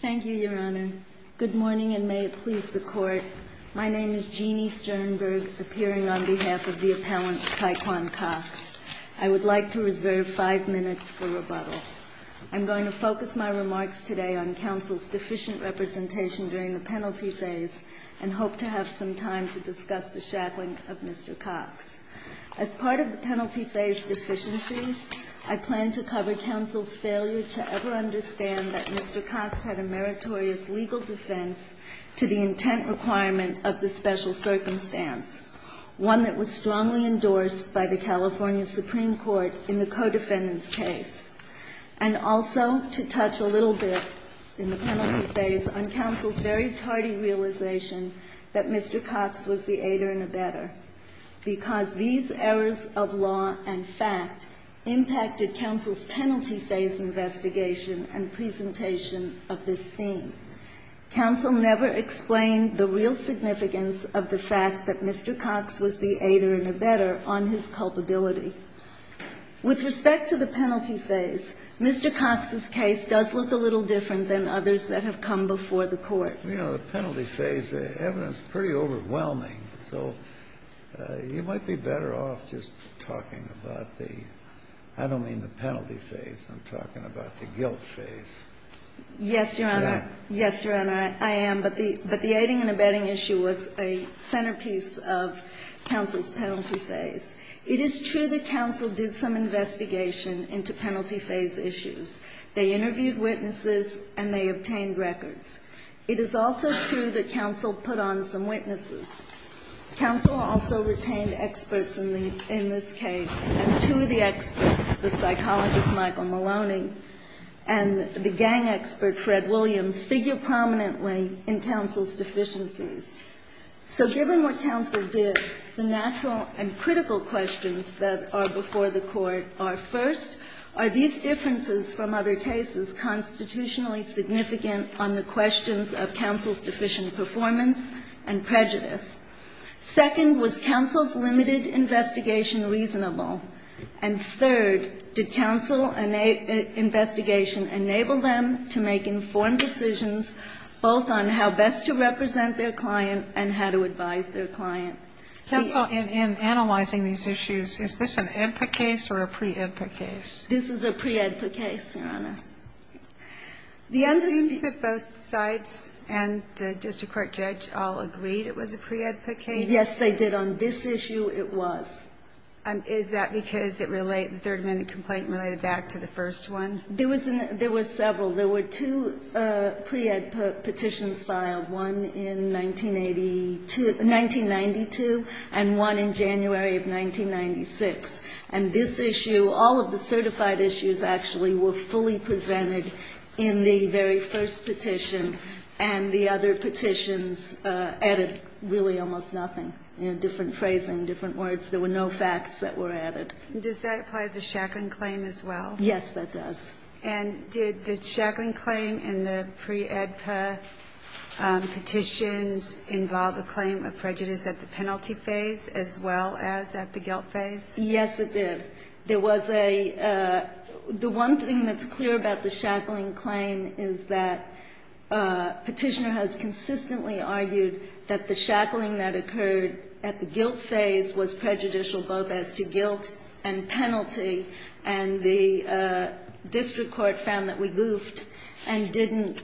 Thank you, Your Honor. Good morning, and may it please the Court. My name is Jeanne Sternberg, appearing on behalf of the appellant Tyquan Cox. I would like to reserve five minutes for rebuttal. I'm going to focus my remarks today on counsel's deficient representation during the penalty phase and hope to have some time to discuss the shackling of Mr. Cox. As part of the penalty phase I plan to cover counsel's failure to ever understand that Mr. Cox had a meritorious legal defense to the intent requirement of the special circumstance, one that was strongly endorsed by the California Supreme Court in the co-defendant's case. And also to touch a little bit in the penalty phase on counsel's very tardy realization that Mr. Cox was the aider and abetter, because these errors of law and fact impacted counsel's penalty phase investigation and presentation of this theme. Counsel never explained the real significance of the fact that Mr. Cox was the aider and abetter on his culpability. With respect to the penalty phase, Mr. Cox's case does look a little different than others that have come before the court. You know, the penalty phase, the evidence is pretty overwhelming, so you might be better off just talking about the... I don't mean the penalty phase. I'm talking about the guilt phase. Yes, Your Honor. Yes, Your Honor, I am. But the aiding and abetting issue was a centerpiece of counsel's penalty phase. It is true that counsel did some investigation into penalty phase issues. They interviewed witnesses, and they obtained records. It is also true that counsel put on some witnesses. Counsel also retained experts in this case, and two of the experts, the psychologist Michael Maloney and the gang expert Fred Williams, figure prominently in counsel's deficiencies. So given what counsel did, the natural and critical questions that are before the court are, first, are these differences from other cases constitutionally significant on the questions of counsel's deficient performance and prejudice? Second, was counsel's limited investigation reasonable? And third, did counsel's investigation enable them to make informed decisions, both on how best to represent their client and how to advise their client? Counsel, in analyzing these issues, is this an EDPA case or a pre-EDPA case? This is a pre-EDPA case, Your Honor. It seems that both sides and the district court judge all agreed it was a pre-EDPA case. Yes, they did. On this issue, it was. Is that because the 30-minute complaint related back to the first one? There were several. There were two pre-EDPA petitions filed, one in 1992 and one in January of 1996. And this issue, all of the certified issues, actually, were fully presented in the very first petition, and the other petitions added, really, almost nothing. Different phrasing, different words. There were no facts that were added. Does that apply to the Shacklin claim as well? Yes, it does. And did the Shacklin claim and the pre-EDPA petitions involve a claim of prejudice at the penalty phase as well as at the guilt phase? Yes, it did. The one thing that's clear about the Shacklin claim is that petitioner has consistently argued that the Shacklin that occurred at the guilt phase was prejudicial, both as to guilt and penalty, and the district court found that we goofed and didn't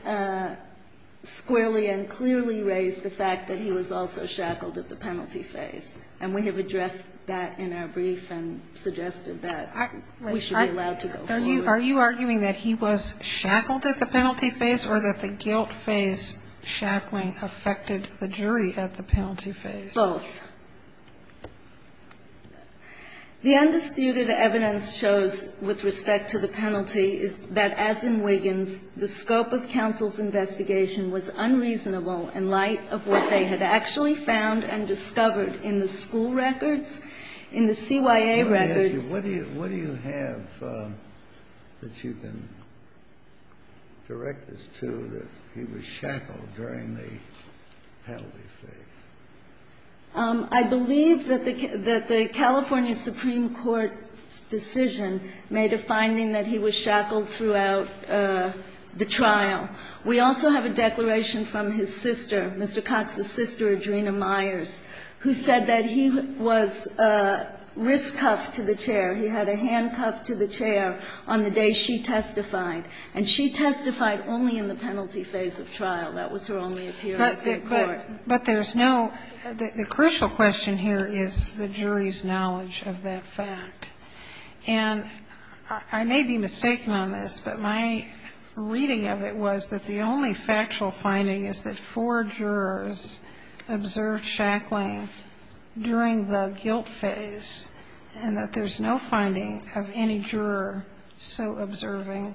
squarely and clearly raise the fact that he was also shackled at the penalty phase. And we have addressed that in our brief and suggested that we should be allowed to go forward. Are you arguing that he was shackled at the penalty phase or that the guilt phase Shacklin affected the jury at the penalty phase? Both. The undisputed evidence shows with respect to the penalty is that, as in Wiggins, the scope of counsel's investigation was unreasonable in light of what they had actually found and discovered in the school records, in the CYA records. Let me ask you, what do you have that you can direct this to, that he was shackled during the penalty phase? I believe that the California Supreme Court decision made a finding that he was shackled throughout the trial. We also have a declaration from his sister, Mr. Cox's sister, Adrena Myers, who said that he was wrist cuffed to the chair. He had a handcuff to the chair on the day she testified, and she testified only in the penalty phase of trial. But the crucial question here is the jury's knowledge of that fact. And I may be mistaken on this, but my reading of it was that the only factual finding is that four jurors observed Shacklin during the guilt phase, and that there's no finding of any juror so observing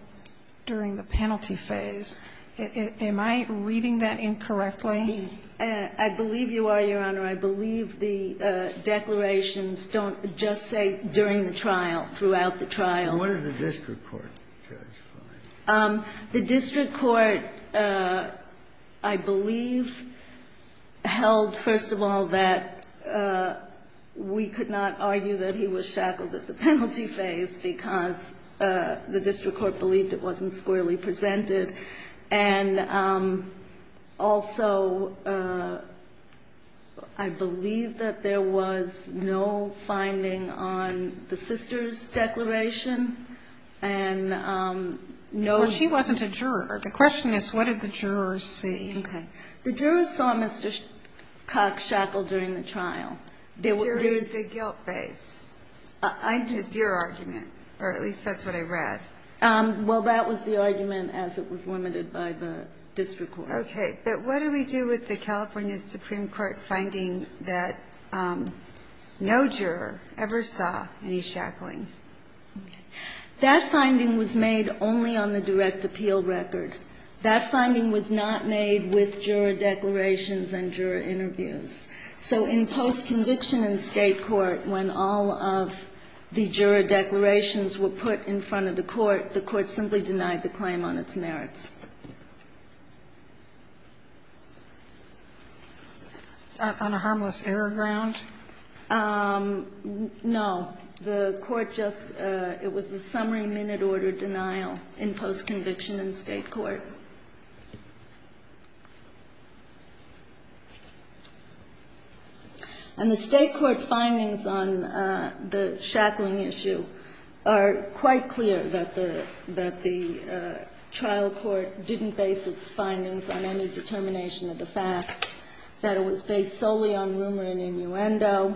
during the penalty phase. Am I reading that incorrectly? I believe you are, Your Honor. I believe the declarations don't just say during the trial, throughout the trial. Where did the district court testify? The district court, I believe, held, first of all, that we could not argue that he was shackled at the penalty phase because the district court believed it wasn't squarely presented. And also, I believe that there was no finding on the sister's declaration. Well, she wasn't a juror. The question is, what did the jurors see? The jurors saw Mr. Cox shackled during the trial. There is a guilt phase. I'm just your argument, or at least that's what I read. Well, that was the argument as it was limited by the district court. Okay. But what do we do with the California Supreme Court finding that no juror ever saw any shackling? That finding was made only on the direct appeal record. That finding was not made with juror declarations and juror interviews. So in post-conviction in state court, when all of the juror declarations were put in front of the court, the court simply denied the claim on its merits. Was that on a harmless error ground? No. It was a summary minute order denial in post-conviction in state court. And the state court findings on the shackling issue are quite clear, that the trial court didn't base its findings on any determination of the fact that it was based solely on rumor and innuendo,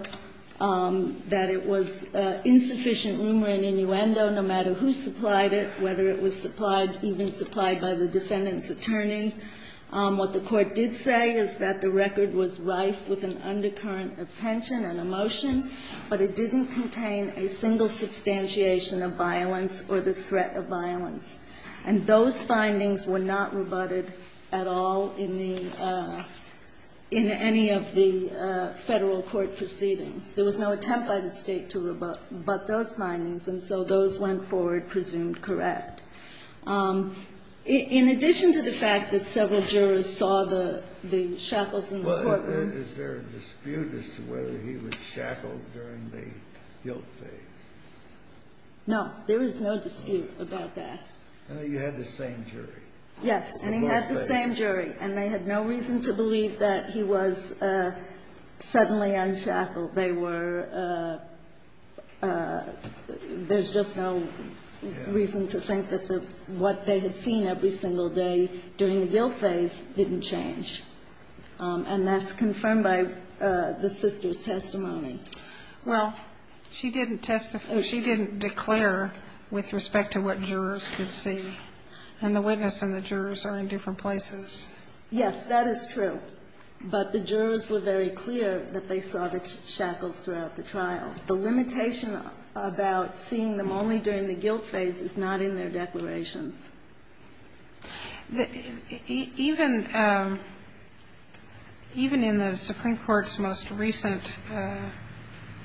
that it was insufficient rumor and innuendo no matter who supplied it, whether it was even supplied by the defendant's attorney. What the court did say is that the record was rife with an undercurrent of tension and emotion, but it didn't contain a single substantiation of violence or the threat of violence. And those findings were not rebutted at all in any of the federal court proceedings. There was no attempt by the state to rebut those findings, and so those went forward presumed correct. In addition to the fact that several jurors saw the shackles in the courtroom... Is there a dispute as to whether he was shackled during the guilt phase? No, there is no dispute about that. You had the same jury. Yes, and he had the same jury, and they had no reason to believe that he was suddenly unshackled. There's just no reason to think that what they had seen every single day during the guilt phase didn't change. And that's confirmed by the sister's testimony. Well, she didn't declare with respect to what jurors could see. And the witness and the jurors are in different places. Yes, that is true. But the jurors were very clear that they saw the shackles throughout the trial. The limitation about seeing them only during the guilt phase is not in their declaration. Even in the Supreme Court's most recent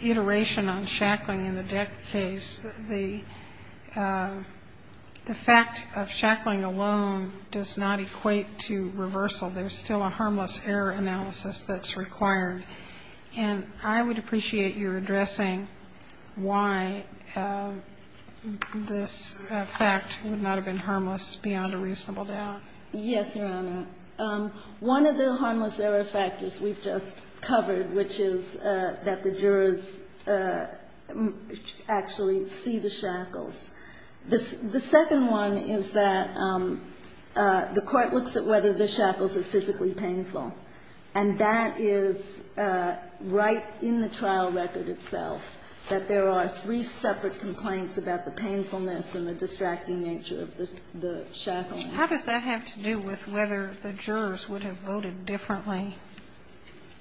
iteration on shackling in the death case, the fact of shackling alone does not equate to reversal. There's still a harmless error analysis that's required. And I would appreciate your addressing why this fact would not have been harmless beyond a reasonable doubt. Yes, Your Honor. One of the harmless error factors we just covered, which is that the jurors actually see the shackles. The second one is that the court looks at whether the shackles are physically painful. And that is right in the trial record itself, that there are three separate complaints about the painfulness and the distracting nature of the shackles. How does that have to do with whether the jurors would have voted differently?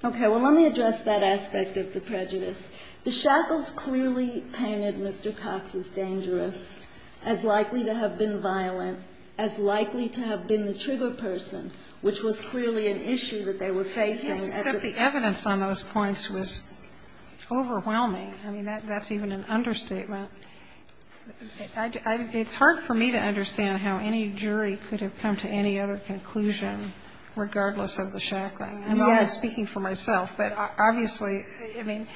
Okay, well, let me address that aspect of the prejudice. The shackles clearly painted Mr. Cox as dangerous, as likely to have been violent, as likely to have been the trigger person, which was clearly an issue that they were facing. Yes, but the evidence on those points was overwhelming. I mean, that's even an understatement. It's hard for me to understand how any jury could have come to any other conclusion, regardless of the shackling. Yes. I know I'm speaking for myself. But obviously, I mean,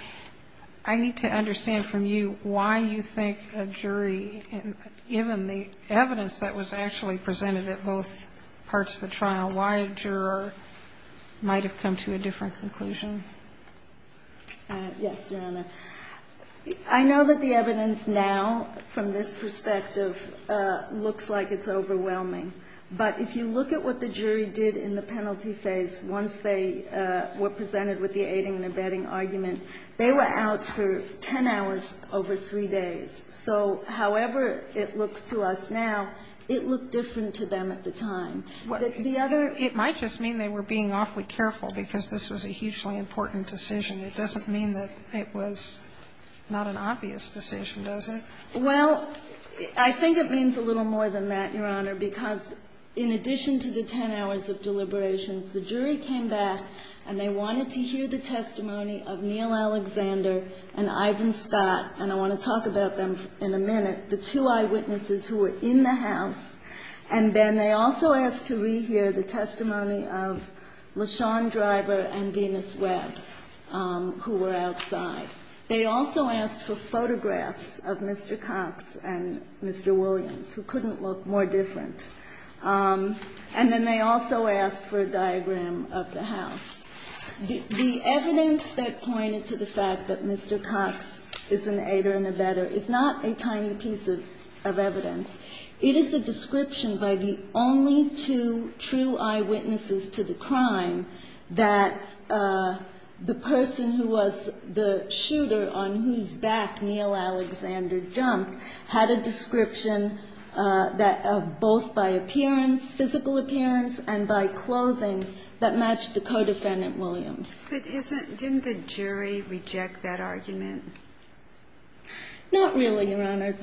I need to understand from you why you think a jury, given the evidence that was actually presented at both parts of the trial, why a juror might have come to a different conclusion. Yes, Your Honor. I know that the evidence now, from this perspective, looks like it's overwhelming. But if you look at what the jury did in the penalty phase, once they were presented with the aiding and abetting argument, they were out for ten hours over three days. So, however it looks to us now, it looked different to them at the time. It might just mean they were being awfully careful, because this was a hugely important decision. It doesn't mean that it was not an obvious decision, does it? Well, I think it means a little more than that, Your Honor, because in addition to the ten hours of deliberations, the jury came back and they wanted to hear the testimony of Neal Alexander and Ivan Scott, and I want to talk about them in a minute, the two eyewitnesses who were in the house. And then they also asked to rehear the testimony of LaShawn Driver and Venus Webb, who were outside. They also asked for photographs of Mr. Cox and Mr. Williams, who couldn't look more different. And then they also asked for a diagram of the house. The evidence that pointed to the fact that Mr. Cox is an aider and abetter is not a tiny piece of evidence. It is a description by the only two true eyewitnesses to the crime that the person who was the shooter, on whose back Neal Alexander jumped, had a description both by physical appearance and by clothing that matched the co-defendant, Williams. But didn't the jury reject that argument? Not really, Your Honor.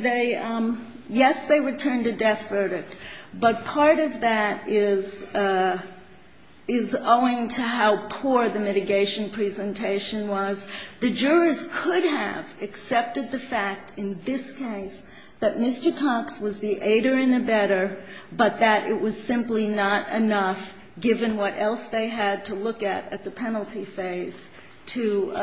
Yes, they returned a death verdict, but part of that is owing to how poor the mitigation presentation was. The jurors could have accepted the fact in this case that Mr. Cox was the aider and abetter, but that it was simply not enough, given what else they had to look at at the penalty phase, to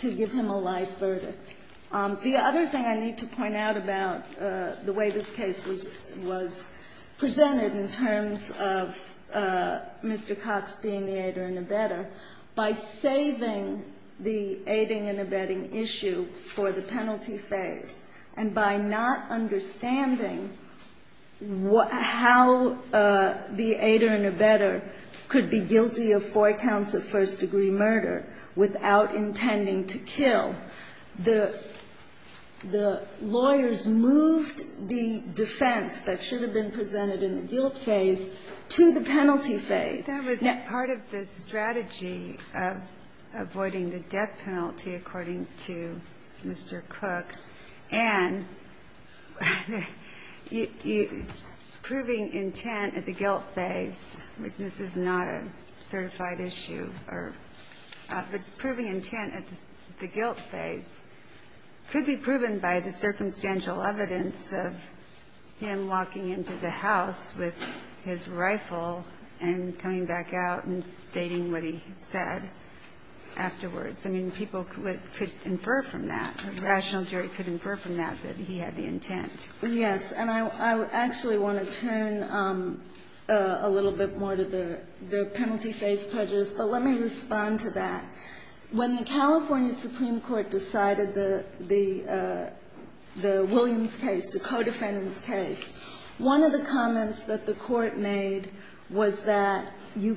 give him a life verdict. The other thing I need to point out about the way this case was presented in terms of Mr. Cox being the aider and abetter, by saving the aiding and abetting issue for the penalty phase, and by not understanding how the aider and abetter could be guilty of four counts of first-degree murder without intending to kill, the lawyers moved the defense that should have been presented in the guilt case to the penalty phase. That was part of the strategy of avoiding the death penalty, according to Mr. Cox. And proving intent at the guilt phase, which this is not a certified issue, but proving intent at the guilt phase could be proven by the circumstantial evidence of him walking into the house with his rifle and coming back out and stating what he said afterwards. I mean, people could infer from that. Rational jury could infer from that that he had the intent. Yes, and I actually want to turn a little bit more to the penalty phase prejudice, but let me respond to that. When the California Supreme Court decided the Williams case, the co-defendant's case, one of the comments that the court made was that you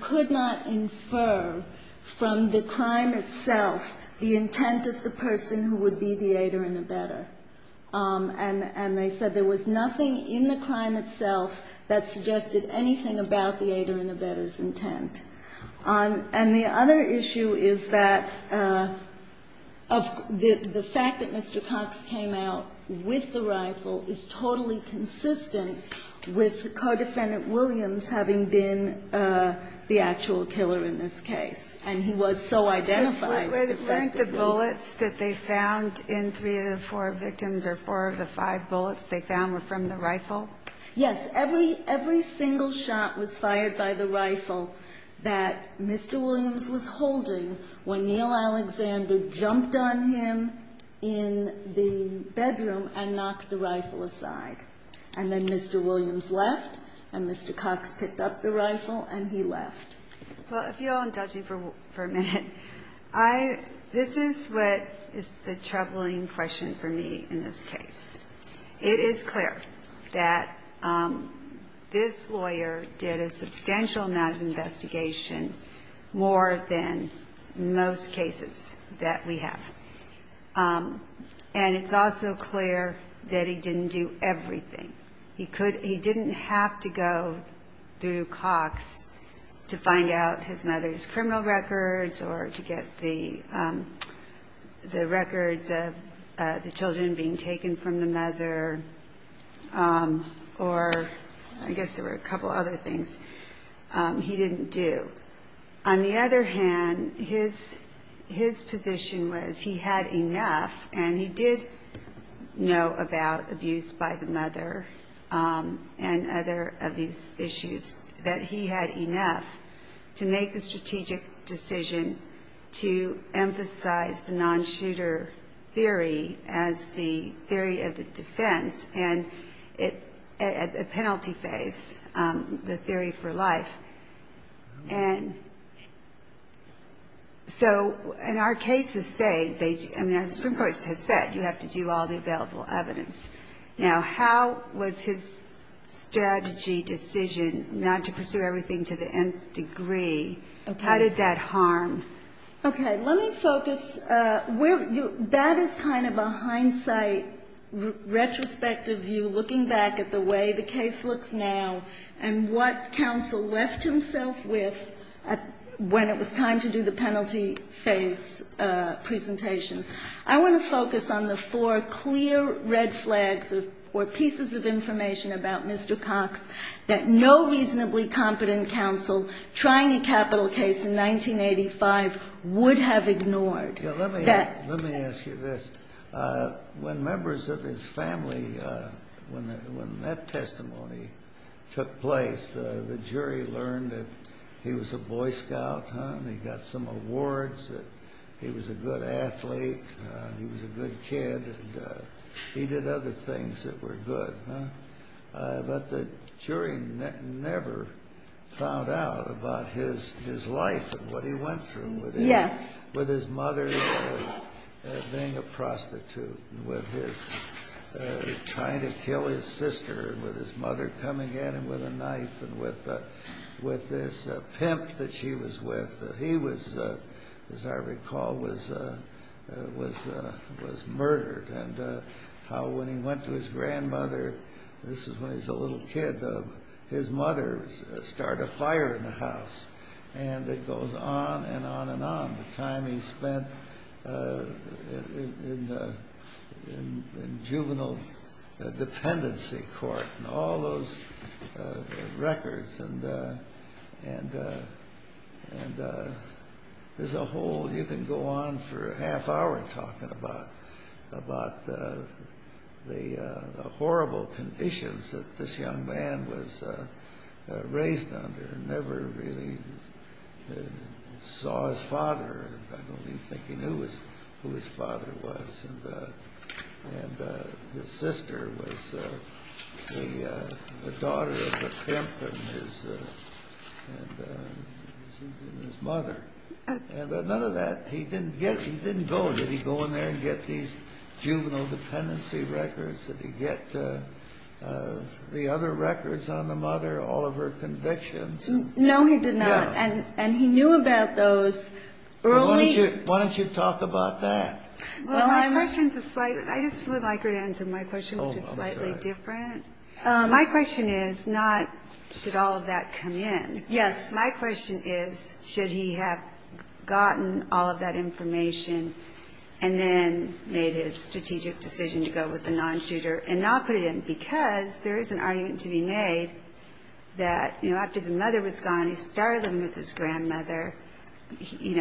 could not infer from the crime itself the intent of the person who would be the aider and abetter. And they said there was nothing in the crime itself that suggested anything about the aider and abetter's intent. And the other issue is that the fact that Mr. Cox came out with the rifle is totally consistent with co-defendant Williams having been the actual killer in this case. Can you explain the bullets that they found in three of the four victims or four of the five bullets they found were from the rifle? Yes, every single shot was fired by the rifle that Mr. Williams was holding when Neal Alexander jumped on him in the bedroom and knocked the rifle aside. And then Mr. Williams left and Mr. Cox picked up the rifle and he left. If you'll indulge me for a minute, this is what is a troubling question for me in this case. It is clear that this lawyer did a substantial amount of investigation more than most cases that we have. And it's also clear that he didn't do everything. He didn't have to go through Cox to find out his mother's criminal records or to get the records of the children being taken from the mother or I guess there were a couple other things he didn't do. On the other hand, his position was he had enough, and he did know about abuse by the mother and other abuse issues, that he had enough to make the strategic decision to emphasize the non-shooter theory as the theory of the defense and as a penalty phase, the theory for life. And so in our cases, say, you have to do all the available evidence. Now, how was his strategy decision not to pursue everything to the nth degree, how did that harm? Okay, let me focus. That is kind of a hindsight retrospective view looking back at the way the case looks now and what counsel left himself with when it was time to do the penalty phase presentation. I want to focus on the four clear red flags or pieces of information about Mr. Cox that no reasonably competent counsel trying a capital case in 1985 would have ignored. Let me ask you this. When members of his family, when that testimony took place, the jury learned that he was a Boy Scout, he got some awards, he was a good athlete, he was a good kid, he did other things that were good. But the jury never found out about his life and what he went through with his mother being a prostitute, with him trying to kill his sister, with his mother coming at him with a knife, with this pimp that she was with. He was, as I recall, was murdered. And how when he went to his grandmother, this is when he was a little kid, his mother started a fire in the house. And it goes on and on and on, the time he spent in juvenile dependency court and all those records. And there's a whole, you can go on for a half hour talking about the horrible conditions that this young man was raised under and never really saw his father, I don't mean thinking who his father was. And his sister was the daughter of the pimp and his mother. And none of that, he didn't go. Did he go in there and get these juvenile dependency records? Did he get the other records on the mother, all of her convictions? No, he did not. And he knew about those early. Why don't you talk about that? I just would like to answer my question, which is slightly different. My question is not, should all of that come in? Yes. My question is, should he have gotten all of that information and then made a strategic decision to go with a non-shooter? And not for him, because there is an argument to be made that after the mother was gone, he started living with his grandmother. He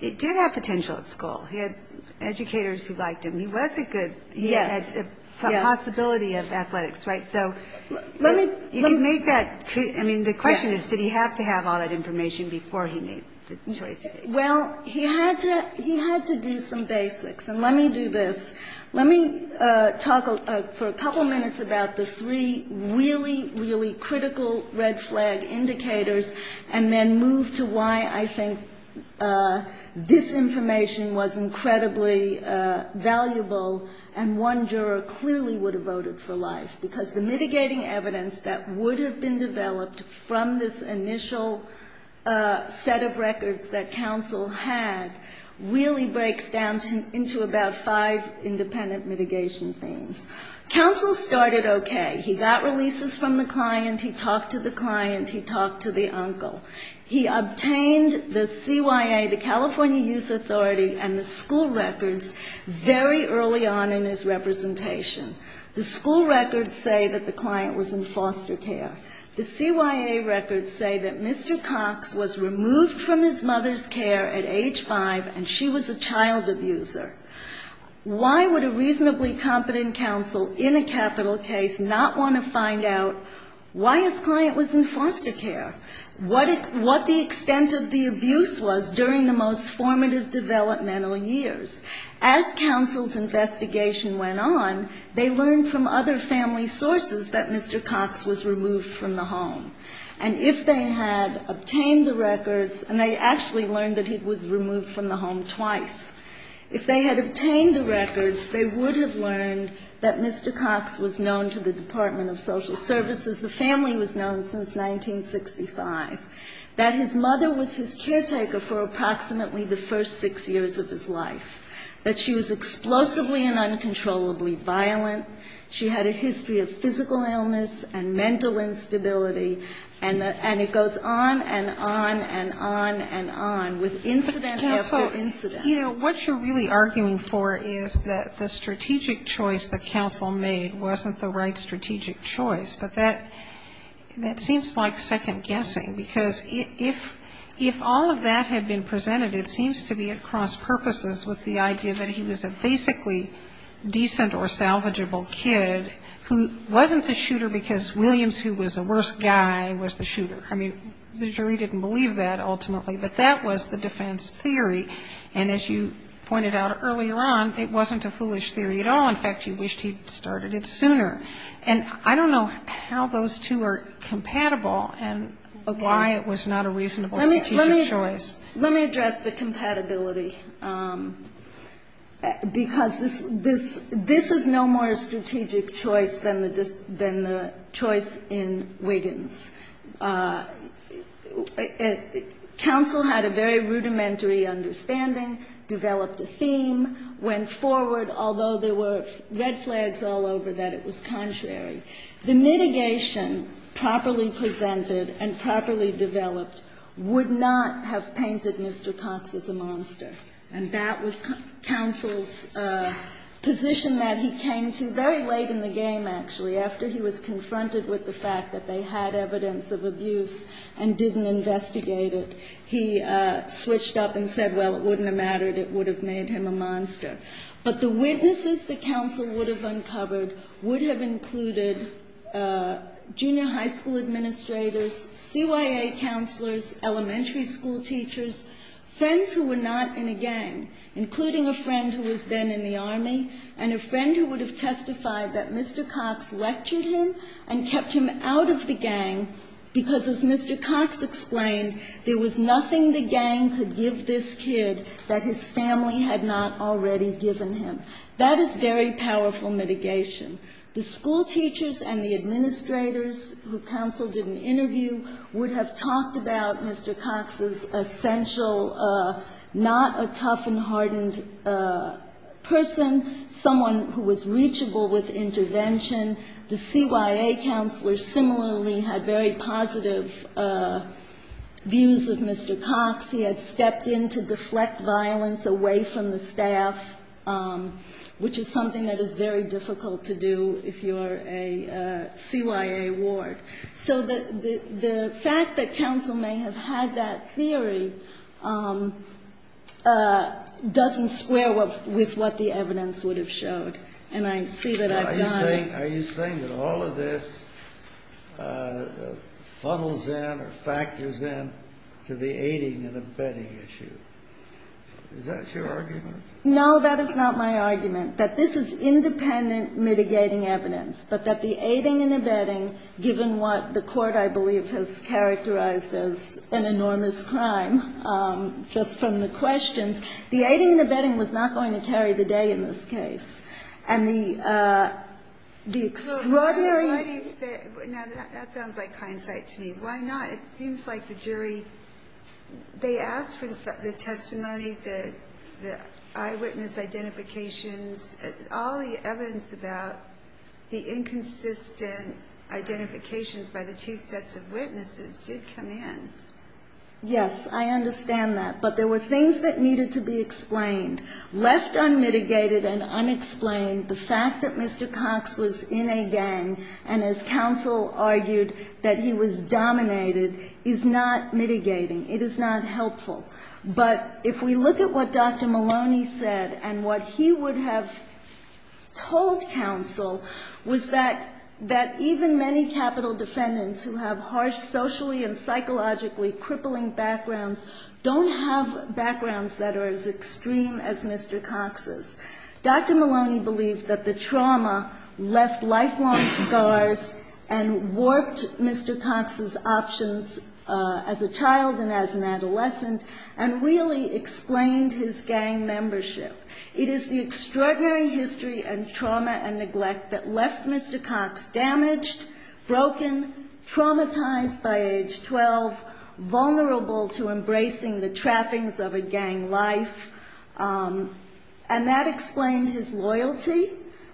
did have potential at school. He had educators who liked him. He was a good, he had a possibility of athletics, right? So, if he made that, I mean, the question is, did he have to have all that information before he made this choice? Well, he had to do some basics. And let me do this. Let me talk for a couple of minutes about the three really, really critical red flag indicators, and then move to why I think this information was incredibly valuable and one juror clearly would have voted for life. Because the mitigating evidence that would have been developed from this initial set of records that counsel had really breaks down into about five independent mitigation things. Counsel started okay. He got releases from the client. He talked to the client. He talked to the uncle. He obtained the CYA, the California Youth Authority, and the school records very early on in his representation. The school records say that the client was in foster care. The CYA records say that Mr. Cox was removed from his mother's care at age five, and she was a child abuser. Why would a reasonably competent counsel in a capital case not want to find out why his client was in foster care? What the extent of the abuse was during the most formative developmental years? As counsel's investigation went on, they learned from other family sources that Mr. Cox was removed from the home. And if they had obtained the records, and they actually learned that he was removed from the home twice, if they had obtained the records, they would have learned that Mr. Cox was known to the Department of Social Services. The family was known since 1965. That his mother was his caretaker for approximately the first six years of his life. That she was explosively and uncontrollably violent. She had a history of physical illness and mental instability. And it goes on and on and on and on with incident after incident. You know, what you're really arguing for is that the strategic choice that counsel made wasn't the right strategic choice. But that seems like second-guessing. Because if all of that had been presented, it seems to be at cross-purposes with the idea that he was a basically decent or salvageable kid who wasn't the shooter because Williams, who was the worst guy, was the shooter. I mean, the jury didn't believe that ultimately, but that was the defense theory. And as you pointed out earlier on, it wasn't a foolish theory at all. In fact, you wished he'd started it sooner. And I don't know how those two are compatible and why it was not a reasonable strategic choice. Let me address the compatibility. Because this is no more a strategic choice than the choice in Wiggins. Counsel had a very rudimentary understanding, developed a theme, went forward, although there were red flags all over that it was contrary. The mitigation properly presented and properly developed would not have painted Mr. Cox as a monster. And that was counsel's position that he came to very late in the game, actually, after he was confronted with the fact that they had evidence of abuse and didn't investigate it. He switched up and said, well, it wouldn't have mattered. It would have made him a monster. But the witnesses that counsel would have uncovered would have included junior high school administrators, CYA counselors, elementary school teachers, friends who were not in a gang, including a friend who was then in the Army, and a friend who would have testified that Mr. Cox lectured him and kept him out of the gang because, as Mr. Cox explained, there was nothing the gang could give this kid that his family had not already given him. That is very powerful mitigation. The school teachers and the administrators who counsel did an interview would have talked about Mr. Cox's essential, not a tough and hardened person, someone who was reachable with intervention. The CYA counselors similarly had very positive views of Mr. Cox. He had stepped in to deflect violence away from the staff, which is something that is very difficult to do if you're a CYA ward. So the fact that counsel may have had that theory doesn't square with what the evidence would have showed. Are you saying that all of this funnels in or factors in to the aiding and abetting issue? Is that your argument? No, that is not my argument, that this is independent mitigating evidence, but that the aiding and abetting, given what the court, I believe, has characterized as an enormous crime, just from the questions, the aiding and abetting was not going to tarry the day in this case. That sounds like hindsight to me. Why not? It seems like the jury, they asked for the testimony, the eyewitness identifications, all the evidence about the inconsistent identifications by the two sets of witnesses did come in. Yes, I understand that, but there were things that needed to be explained. Left unmitigated and unexplained, the fact that Mr. Cox was in a gang, and as counsel argued, that he was dominated, is not mitigating, it is not helpful. But if we look at what Dr. Maloney said, and what he would have told counsel, was that even many capital defendants who have harsh socially and psychologically crippling backgrounds don't have backgrounds that are as extreme as Mr. Cox's. Dr. Maloney believed that the trauma left lifelong scars and warped Mr. Cox's options as a child and as an adolescent, and really explained his gang membership. It is the extraordinary history and trauma and neglect that left Mr. Cox damaged, broken, traumatized by age 12, vulnerable to embracing the trappings of a gang life, and that explained his loyalty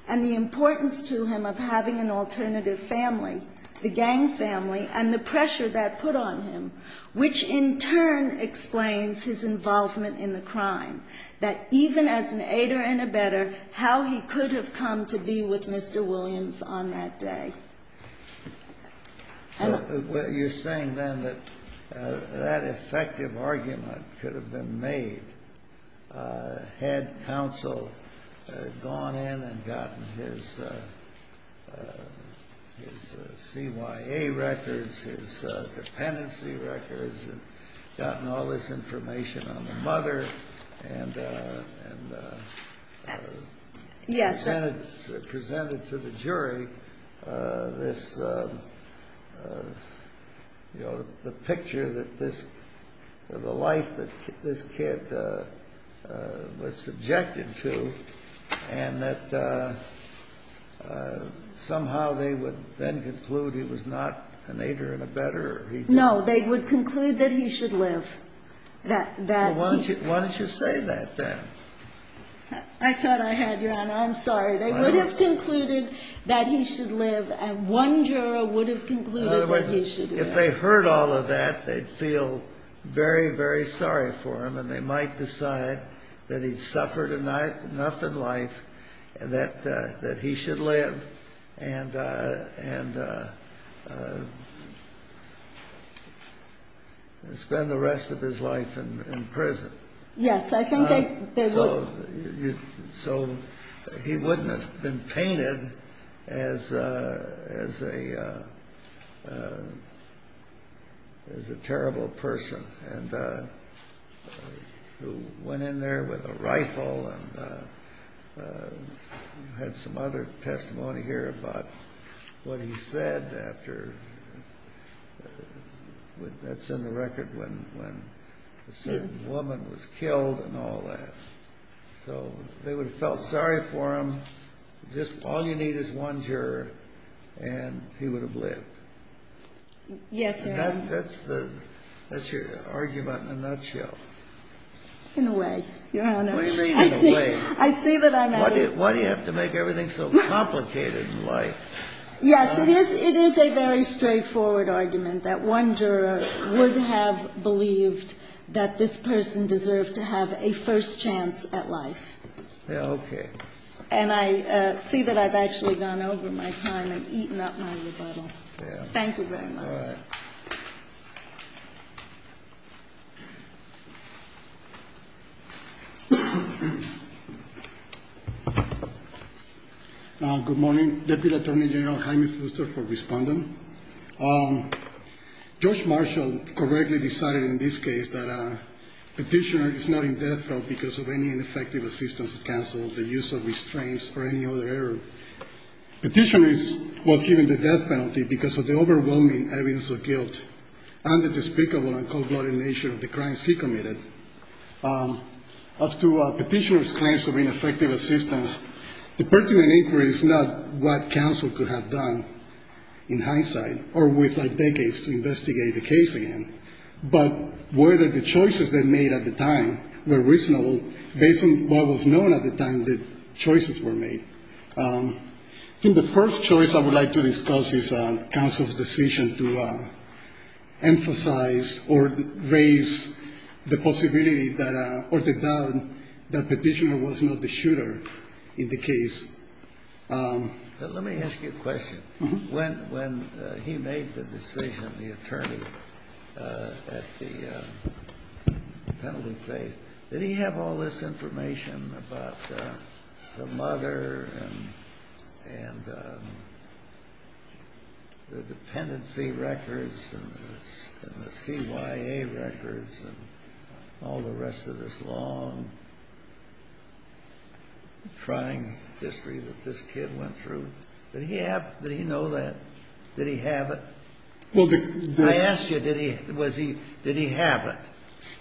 and the importance to him of having an alternative family, the gang family, and the pressure that put on him, which in turn explains his involvement in the crime. That even as an aider and abetter, how he could have come to be with Mr. Williams on that day. You're saying then that that effective argument could have been made had counsel gone in and gotten his CYA records, his dependency records, gotten all this information on the mother, and presented to the jury the picture, the life that this kid was subjected to, and that somehow they would then conclude he was not an aider and abetter. No, they would conclude that he should live. Why don't you say that then? I thought I had, Ron. I'm sorry. They would have concluded that he should live, and one juror would have concluded that he should live. If they heard all of that, they'd feel very, very sorry for him, and they might decide that he suffered enough in life that he should live and spend the rest of his life in prison. Yes, I think they would. So, he wouldn't have been painted as a terrible person, and who went in there with a rifle and had some other testimony here about what he said after. That's in the record when a certain woman was killed and all that. So, they would have felt sorry for him. All you need is one juror, and he would have lived. Yes, sir. That's your argument in a nutshell. In a way. What do you mean in a way? I see what I'm asking. Why do you have to make everything so complicated in life? Yes, it is a very straightforward argument that one juror would have believed that this person deserved to have a first chance at life. Okay. And I see that I've actually gone over my time and eaten up my rebuttal. All right. Thank you. Good morning. Deputy Attorney General Jaime Fuster for respondent. Judge Marshall correctly decided in this case that a petitioner is not in death row because of any ineffective assistance of counsel, the use of restraints, or any other error. A petitioner is, well, given the death penalty because of the overwhelming evidence of guilt and the despicable and cold-blooded nature of the crimes he committed. As to a petitioner's claims of ineffective assistance, the pertinent inquiry is not what counsel could have done in hindsight or within decades to investigate the case again, but whether the choices they made at the time were reasonable based on what was known at the time the choices were made. In the first choice, I would like to discuss counsel's decision to emphasize or raise the possibility that the petitioner was not the shooter in the case. Let me ask you a question. When he made the decision, the attorney at the penalty place, did he have all this information about the mother and the dependency records and the CYA records and all the rest of this long, trying history that this kid went through? Did he know that? Did he have it? I asked you, did he have it?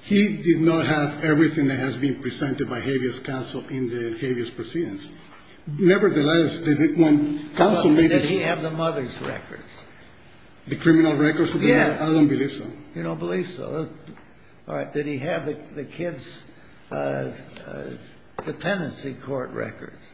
He did not have everything that has been presented by habeas counsel in the habeas proceedings. Nevertheless, did he have the mother's records? The criminal records? Yeah. I don't believe so. You don't believe so. All right. Did he have the kid's dependency court records?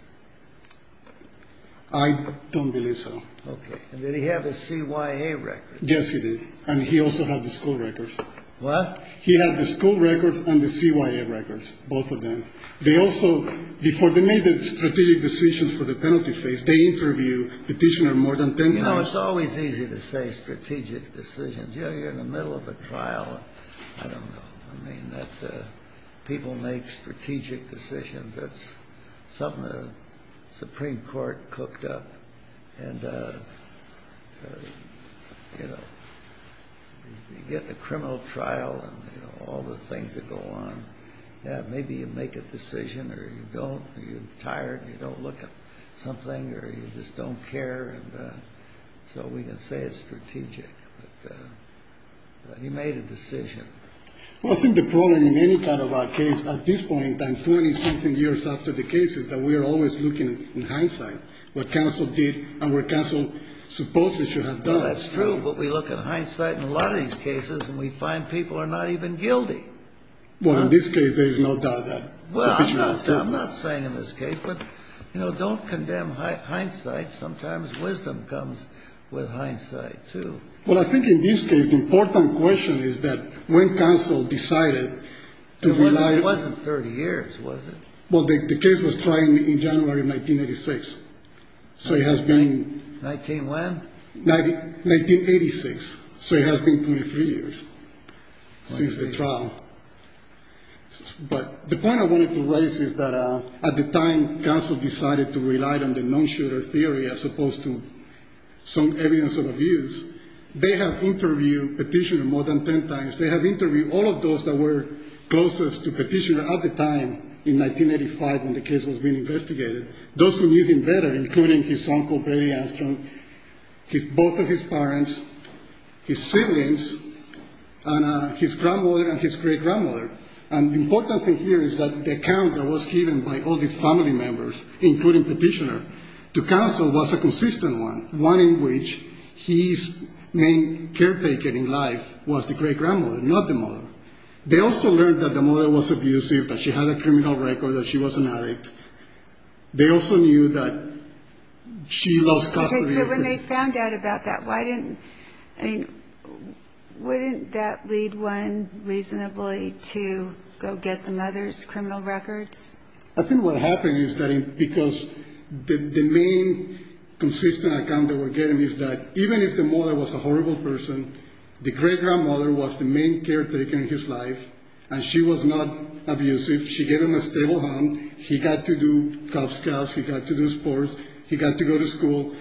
I don't believe so. Okay. And did he have the CYA records? Yes, he did. And he also had the school records. What? He had the school records and the CYA records, both of them. They also, before they made the strategic decisions for the penalty case, they interviewed the petitioner more than ten times. You know, it's always easy to say strategic decisions. You know, you're in the middle of a trial. I don't know. I mean, people make strategic decisions. That's something the Supreme Court cooked up. And, you know, you get the criminal trial and, you know, all the things that go on. Maybe you make a decision or you don't. You're tired. You don't look at something or you just don't care. And so we didn't say it's strategic. But he made a decision. Well, I think the problem in any kind of our case at this point, years after the case is that we are always looking in hindsight what counsel did and what counsel supposedly should have done. Well, that's true. But we look at hindsight in a lot of these cases and we find people are not even guilty. Well, in this case, there is no doubt that. Well, I'm not saying in this case. But, you know, don't condemn hindsight. Sometimes wisdom comes with hindsight, too. Well, I think in this case the important question is that when counsel decided to rely on 30 years, was it? Well, the case was tried in January of 1986. So it has been. 19 when? 1986. So it has been 23 years since the trial. But the point I wanted to raise is that at the time counsel decided to rely on the non-shutter theory as opposed to some evidence of abuse, they have interviewed petitioner more than 10 times. They have interviewed all of those that were closest to petitioner at the time in 1985 when the case was being investigated. Those who knew him better, including his uncle Barry Armstrong, both of his parents, his siblings, and his grandmother and his great-grandmother. And the important thing here is that the account that was given by all these family members, including petitioner, to counsel was a consistent one, one in which his main caretaker in life was the great-grandmother, not the mother. They also learned that the mother was abusive, that she had a criminal record, that she was an addict. They also knew that she lost custody. So when they found out about that, why didn't that lead one reasonably to go get the mother's criminal record? I think what happened is that because the main consistent account that we're getting is that even if the mother was a horrible person, the great-grandmother was the main caretaker in his life, and she was not abusive. She gave him a stable home. He got to do cops, cops. He got to do sports. He got to go to school.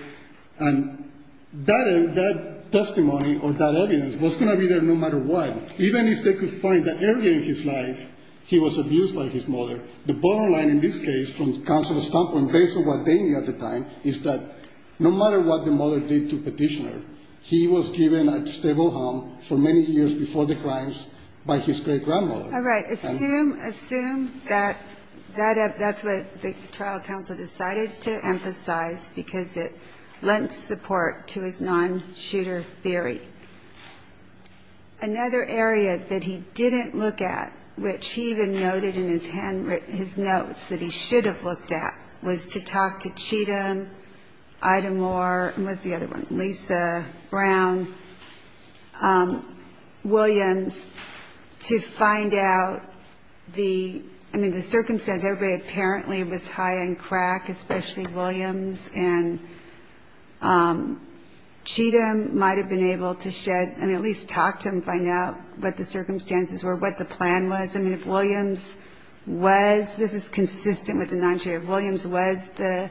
And that testimony or that evidence was going to be there no matter what, even if they could find that early in his life he was abused by his mother, the bottom line in this case from counsel's point of view at the time is that no matter what the mother did to petitioner, he was given a stable home for many years before the crimes by his great-grandmother. All right, assume that that's what the trial counsel decided to emphasize because it lends support to his non-shooter theory. Another area that he didn't look at, which he even noted in his notes that he should have looked at, was to talk to Cheatham, Idemore, and what's the other one? Lisa, Brown, Williams, to find out the circumstance. Everybody apparently was high on crack, especially Williams, and Cheatham might have been able to shed and at least talk to him, find out what the circumstances were, what the plan was. I mean, if Williams was, this is consistent with the non-shooter, if Williams was the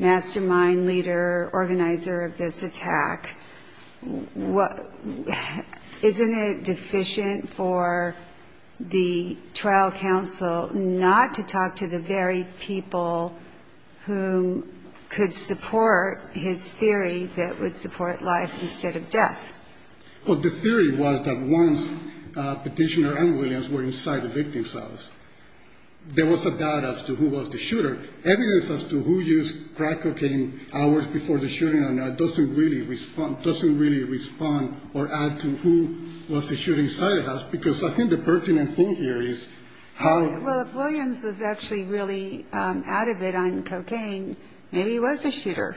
mastermind, leader, organizer of this attack, isn't it deficient for the trial counsel not to talk to the very people who could support his theory that would support life instead of death? Well, the theory was that once petitioner and Williams were inside the victim's house, there was a doubt as to who was the shooter. Evidence as to who used crack cocaine hours before the shooting doesn't really respond or add to who was the shooter inside the house because I think the pertinent thing here is how- Well, if Williams was actually really out of it on cocaine, maybe he was the shooter.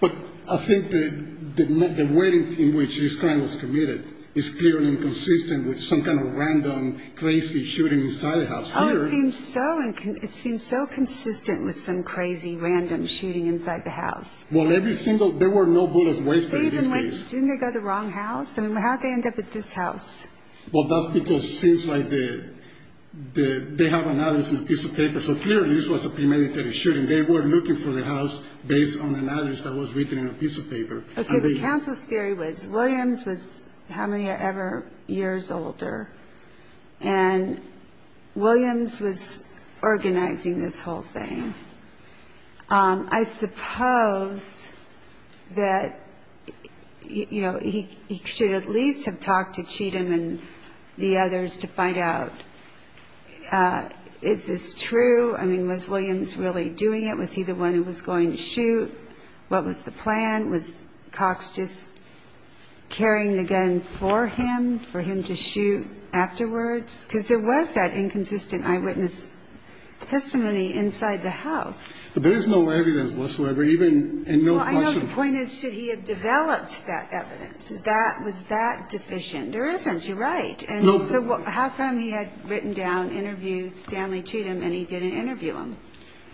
But I think the way in which his plan was committed is clearly consistent with some kind of random crazy shooting inside the house. Oh, it seems so consistent with some crazy random shooting inside the house. Well, every single- there were no bullets wasted in this case. Didn't they go to the wrong house? How'd they end up at this house? Well, that's because it seems like they have an address on a piece of paper. So clearly this was a premeditated shooting. They were looking for the house based on an address that was written on a piece of paper. Okay, the counsel's theory was Williams was however many years older and Williams was organizing this whole thing. I suppose that he should at least have talked to Cheatham and the others to find out, is this true? Was Williams really doing it? Was he the one who was going to shoot? What was the plan? Was Cox just carrying the gun for him, for him to shoot afterwards? Because there was that inconsistent eyewitness testimony inside the house. There is no evidence whatsoever, even in no caution. Well, I know the point is that he had developed that evidence. That was that deficient. There isn't, you're right. And so how come he had written down, interviewed Stanley Cheatham, and he didn't interview him?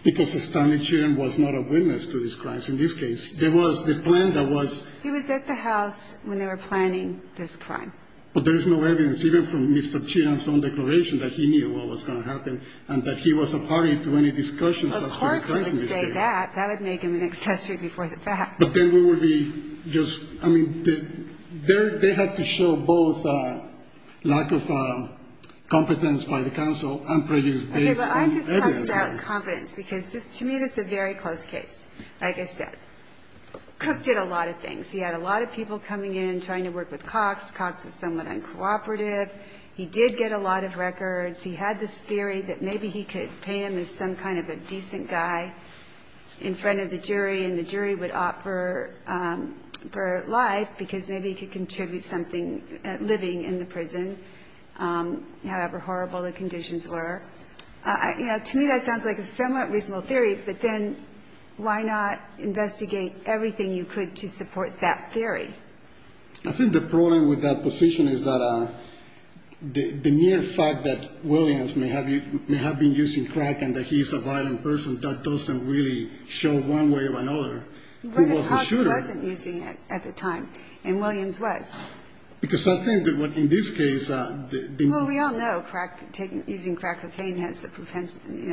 Because Stanley Cheatham was not a witness to this crime in this case. He was at the house when they were planning this crime. But there is no evidence, even from Mr. Cheatham's own declaration, that he knew what was going to happen and that he wasn't party to any discussions. Of course he would say that. That would make him an accessory before the fact. But then we would be just, I mean, they have to show both lack of confidence by the counsel and prejudice based on evidence. Because this, to me, this is a very close case, like I said. Cook did a lot of things. He had a lot of people coming in and trying to work with Cox. Cox was somewhat uncooperative. He did get a lot of records. He had this theory that maybe he could pay him as some kind of a decent guy in front of the jury, and the jury would opt for life because maybe he could contribute something, living in the prison, however horrible the conditions were. To me, that sounds like a somewhat reasonable theory, but then why not investigate everything you could to support that theory? I think the problem with that position is that the mere fact that Williams may have been using crack and that he is a violent person, that doesn't really show one way or another who was the shooter. Well, Cox wasn't using it at the time, and Williams was. Because I think that in this case, Well, we all know using crack cocaine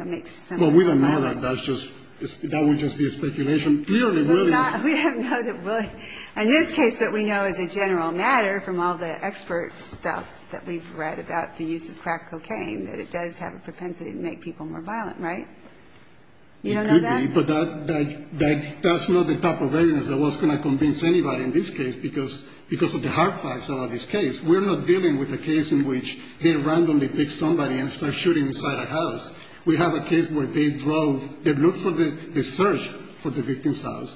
makes sense. Well, we don't know that. That would just be a speculation. We don't know that it would. In this case, what we know is a general matter from all the expert stuff that we've read about the use of crack cocaine, that it does have a propensity to make people more violent, right? You know that? That's not the top of the list. I wasn't going to convince anybody in this case because of the hard facts about this case. We're not dealing with a case in which they randomly pick somebody and start shooting inside a house. We have a case where they drove, they looked for the search for the victim's house.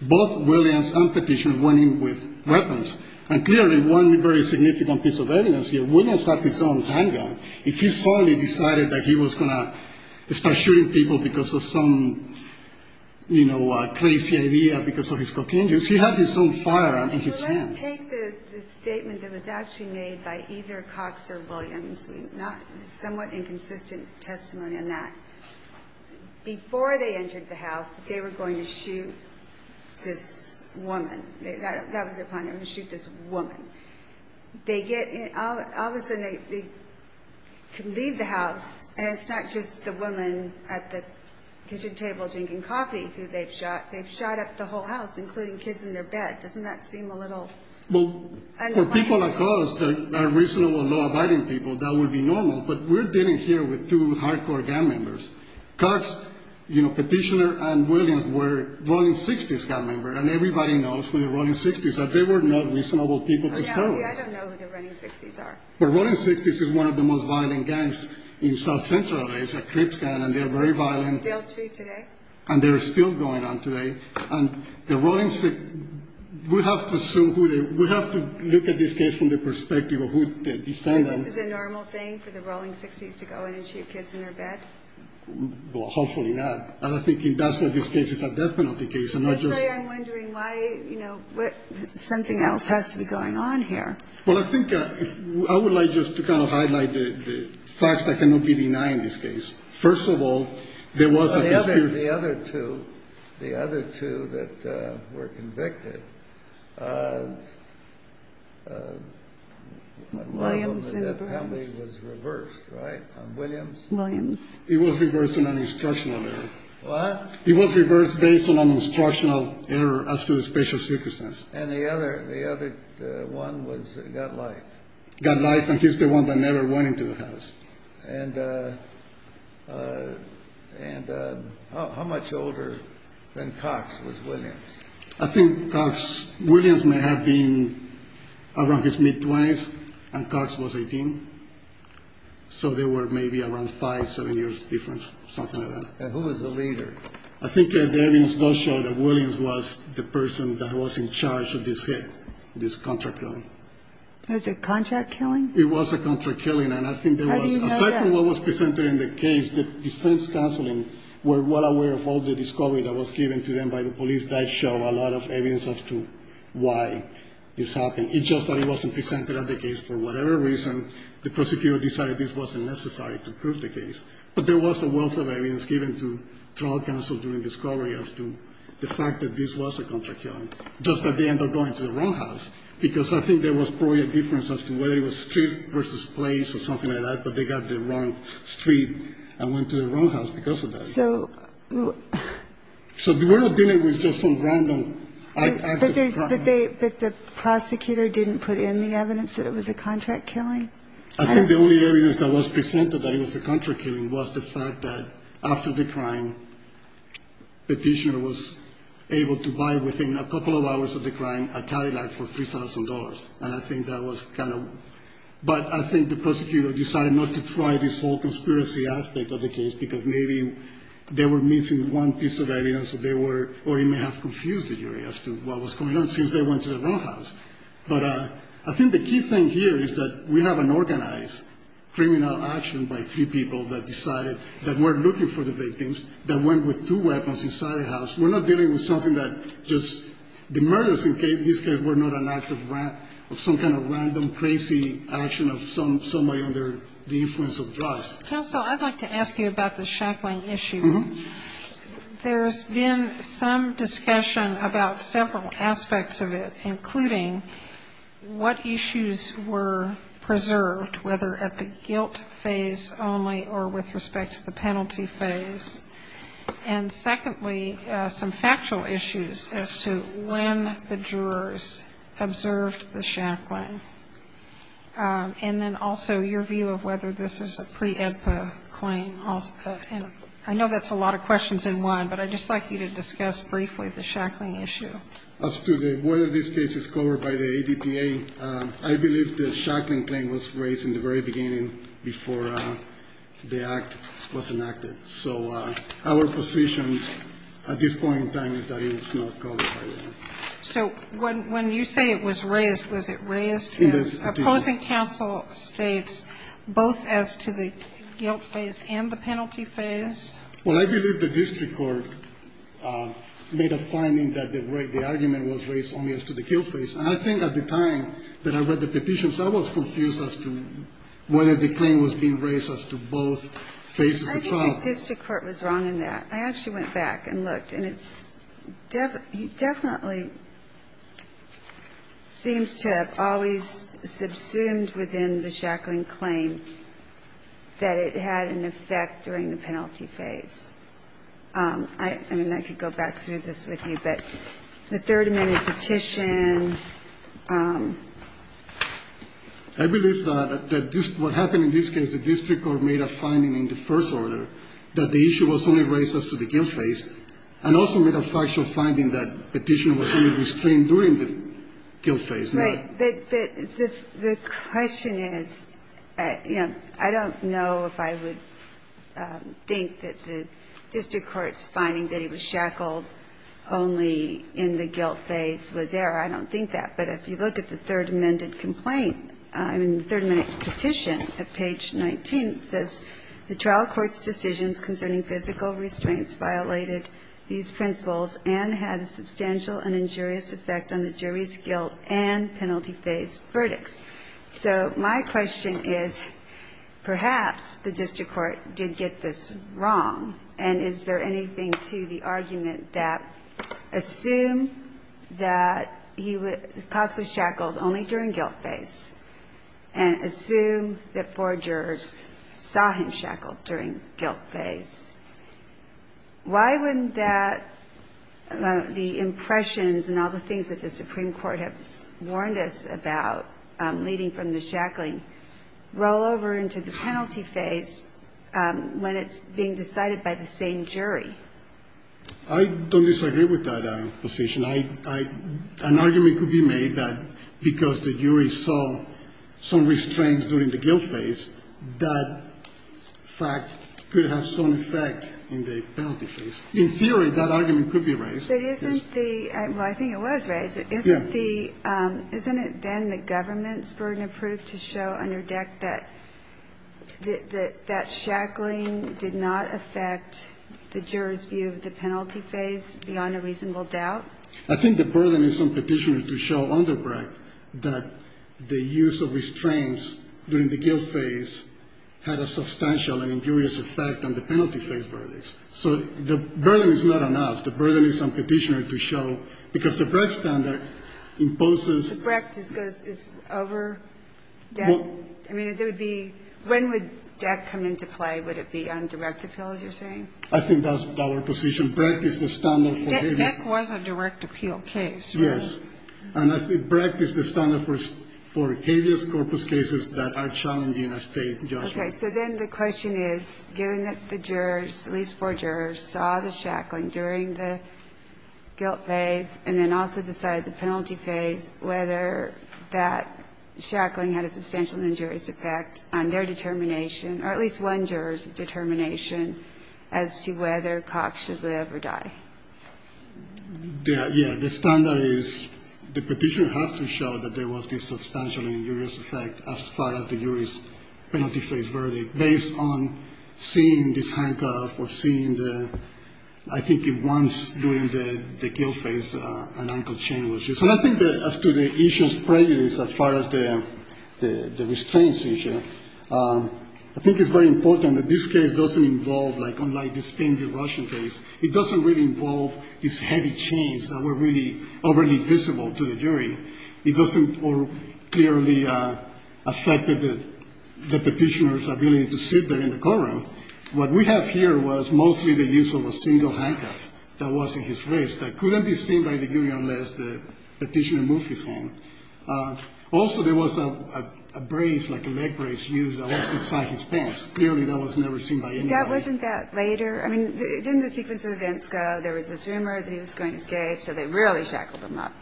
Both Williams and Petition went in with weapons, and clearly one very significant piece of evidence here, Williams had his own handgun. If he suddenly decided that he was going to start shooting people because of some, you know, crazy idea, because of his cocaine use, he had his own firearm in his hand. Take the statement that was actually made by either Cox or Williams. Somewhat inconsistent testimony in that. Before they entered the house, they were going to shoot this woman. That was their plan. They were going to shoot this woman. All of a sudden, they leave the house, and it's not just the woman at the kitchen table drinking coffee who they've shot. They've shot up the whole house, including kids in their bed. Doesn't that seem a little unkind? Well, for people like us that are reasonable, law-abiding people, that would be normal, but we're dealing here with two hardcore gang members. Cox, you know, Petitioner, and Williams were Rolling Sixties gang members, and everybody knows who the Rolling Sixties are. They were not reasonable people to start with. I don't know who the Rolling Sixties are. The Rolling Sixties is one of the most violent gangs in South Central Asia, Kyrgyzstan, and they're very violent. They are too today. And they're still going on today. And the Rolling Sixties, we have to look at this case from the perspective of who the offenders are. Is this a normal thing for the Rolling Sixties to go in and shoot kids in their bed? Well, hopefully not. I think in most of these cases, that's not the case. That's why I'm wondering why something else has to be going on here. Well, I think I would like just to kind of highlight the facts that can be denied in this case. First of all, there was a dispute. The other two, the other two that were convicted, not only that family was reversed, right? Williams? Williams. He was reversed based on an instructional error. What? He was reversed based on an instructional error as to his spatial sickness. And the other one was Godlike. Godlike, and he's the one that never went into the house. And how much older than Cox was Williams? I think Williams may have been around his mid-20s, and Cox was 18. So they were maybe around five, seven years difference, something like that. And who was the leader? I think there is no show that Williams was the person that was in charge of this hit, this contract killing. Was it contract killing? It was a contract killing. And I think there was, aside from what was presented in the case, the defense counsel were well aware of all the discovery that was given to them by the police. That showed a lot of evidence as to why this happened. It's just that it wasn't presented at the case. For whatever reason, the prosecutor decided this wasn't necessary to prove the case. But there was a wealth of evidence given to trial counsel during discovery as to the fact that this was a contract killing, just at the end of going to the wrong house, because I think there was probably a difference as to whether it was street versus place or something like that, but they got the wrong street and went to the wrong house because of that. So the world did it with just some random act of crime. But the prosecutor didn't put in the evidence that it was a contract killing? I think the only evidence that was presented that it was a contract killing was the fact that after the crime, the petitioner was able to buy, within a couple of hours of the crime, a Cadillac for $3,000. And I think that was kind of... But I think the prosecutor decided not to try this whole conspiracy outtake of the case because maybe they were missing one piece of evidence or they may have confused the jury as to what was going on, since they went to the wrong house. But I think the key thing here is that we have an organized criminal action by three people that decided that we're looking for the victims, that went with two weapons inside the house. We're not dealing with something that just... The murders in this case were not an act of some kind of random, crazy action of somebody under the influence of drugs. Also, I'd like to ask you about the shackling issue. There's been some discussion about several aspects of it, including what issues were preserved, whether at the guilt phase only or with respect to the penalty phase. And secondly, some factual issues as to when the jurors observed the shackling. And then also your view of whether this is a pre-EPA claim. I know that's a lot of questions in one, but I'd just like you to discuss briefly the shackling issue. As to whether this case is covered by the ADPA, I believe the shackling claim was raised in the very beginning before the act was enacted. So our position at this point in time is that it's not covered by the ADPA. So when you say it was raised, was it raised? Opposing counsel states both as to the guilt phase and the penalty phase. Well, I believe the district court made a finding that the argument was raised only as to the guilt phase. And I think at the time that I read the petitions, I was confused as to whether the claim was being raised as to both phases of trial. I think the district court was wrong in that. I actually went back and looked, and it definitely seems to have always subsumed within the shackling claim that it had an effect during the penalty phase. I could go back through this with you, but the third amendment petition. I believe that what happened in this case, the district court made a finding in the first order that the issue was only raised as to the guilt phase and also made a partial finding that the petition was only restrained during the guilt phase. Right, but the question is, I don't know if I would think that the district court's finding that it was shackled only in the guilt phase was there. I don't think that. But if you look at the third amendment petition at page 19, it says, the trial court's decisions concerning physical restraints violated these principles and had a substantial and injurious effect on the jury's guilt and penalty phase verdicts. So my question is, perhaps the district court did get this wrong. And is there anything to the argument that assumes that he was shackled only during guilt phase and assumes that four jurors saw him shackled during guilt phase. Why wouldn't that, the impressions and all the things that the Supreme Court has warned us about leading from the shackling, roll over into the penalty phase when it's being decided by the same jury? I don't disagree with that position. An argument could be made that because the jury saw some restraints during the guilt phase, that fact could have some effect in the penalty phase. In theory, that argument could be raised. Well, I think it was raised. Isn't it then the government's burden of proof to show under deck that shackling did not affect the jurors' view of the penalty phase beyond a reasonable doubt? I think the burden in some petitions is to show under deck that the use of restraints during the guilt phase had a substantial and injurious effect on the penalty phase verdicts. So the burden is not on us. The burden is on petitioners to show. Because the Brecht standard imposes- The Brecht is over deck? I mean, when would deck come into play? Would it be on direct appeal, as you're saying? I think that's our position. Brecht is the standard for- Deck was a direct appeal case. Yes. And Brecht is the standard for habeas corpus cases that are challenging a state judgment. Okay. So then the question is, given that the jurors, at least four jurors, saw the shackling during the guilt phase and then also decided the penalty phase, whether that shackling had a substantial injurious effect on their determination, or at least one juror's determination, as to whether Cox should live or die. Yeah. The standard is the petitioner has to show that there was a substantial injurious effect as part of the jury's penalty phase verdict, based on seeing this handcuff or seeing the- I think at once during the guilt phase, an ankle chain was used. And I think that as to the issue of prejudice as far as the restraints issue, I think it's very important that this case doesn't involve, like, unlike this thing, the Russian case, it doesn't really involve these heavy chains that were really overly visible to the jury. It doesn't clearly affect the petitioner's ability to sit there in the courtroom. What we have here was mostly the use of a single handcuff that was in his wrist that couldn't be seen by the jury unless the petitioner moved his hand. Also, there was a brace, like a leg brace, used that was inside his pants. Clearly, that was never seen by anyone. Wasn't that later? I mean, didn't the sequence of events go, there was this rumor that he was going gay, so they rarely shackled him up,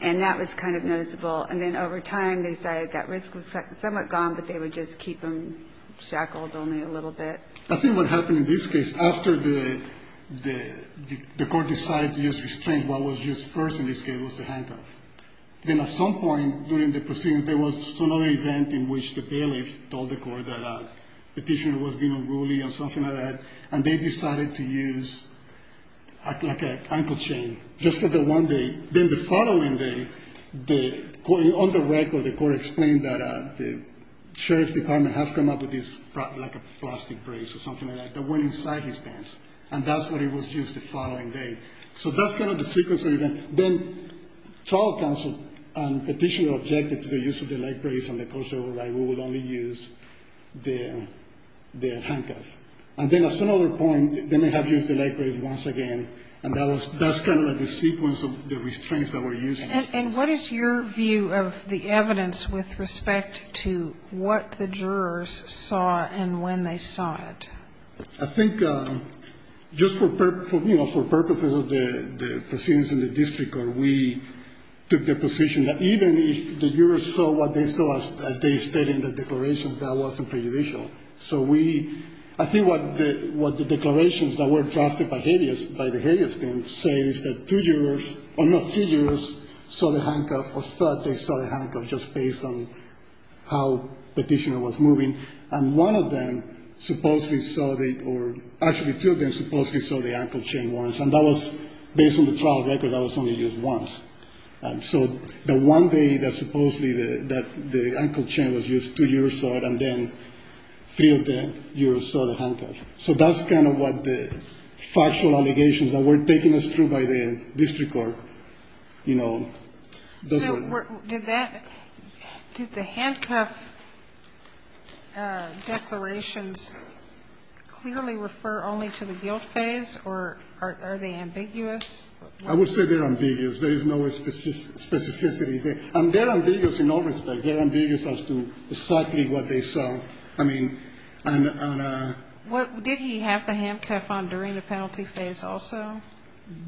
and that was kind of noticeable. And then over time, they decided that risk was somewhat gone, but they would just keep him shackled only a little bit. I think what happened in this case, after the court decided to use restraints, what was used first in this case was the handcuff. Then at some point during the proceedings, there was another event in which the bailiff told the court that the petitioner was being unruly and something like that, and they decided to use an ankle chain just for the one day. Then the following day, on the record, the court explained that the sheriff's department had come up with this plastic brace or something like that that went inside his pants, and that's what was used the following day. So that's kind of the sequence of events. Then trial counsel and petitioner objected to the use of the leg brace and the court said, all right, we will only use the handcuff. And then at some other point, they may have used the leg brace once again, and that's kind of the sequence of the restraints that were used. And what is your view of the evidence with respect to what the jurors saw and when they saw it? I think just for purposes of the proceedings in the district court, we took the position that even if the jurors saw what they saw as they stated in the declarations, that wasn't prejudicial. So I think what the declarations that were drafted by the Hades game say is that two jurors, or not two jurors, saw the handcuff or thought they saw the handcuff just based on how the petitioner was moving. And one of them supposedly saw the, or actually two of them supposedly saw the ankle chain once, and that was based on the trial record that was only used once. So the one day that supposedly the ankle chain was used, two jurors saw it, and then three of them jurors saw the handcuff. So that's kind of what the factual allegations that were taking us through by the district court, you know. Did the handcuff declarations clearly refer only to the guilt phase, or are they ambiguous? I would say they're ambiguous. There is no specificity. They're ambiguous in all respects. They're ambiguous as to exactly what they saw. I mean, and... Did he have the handcuff on during the penalty phase also?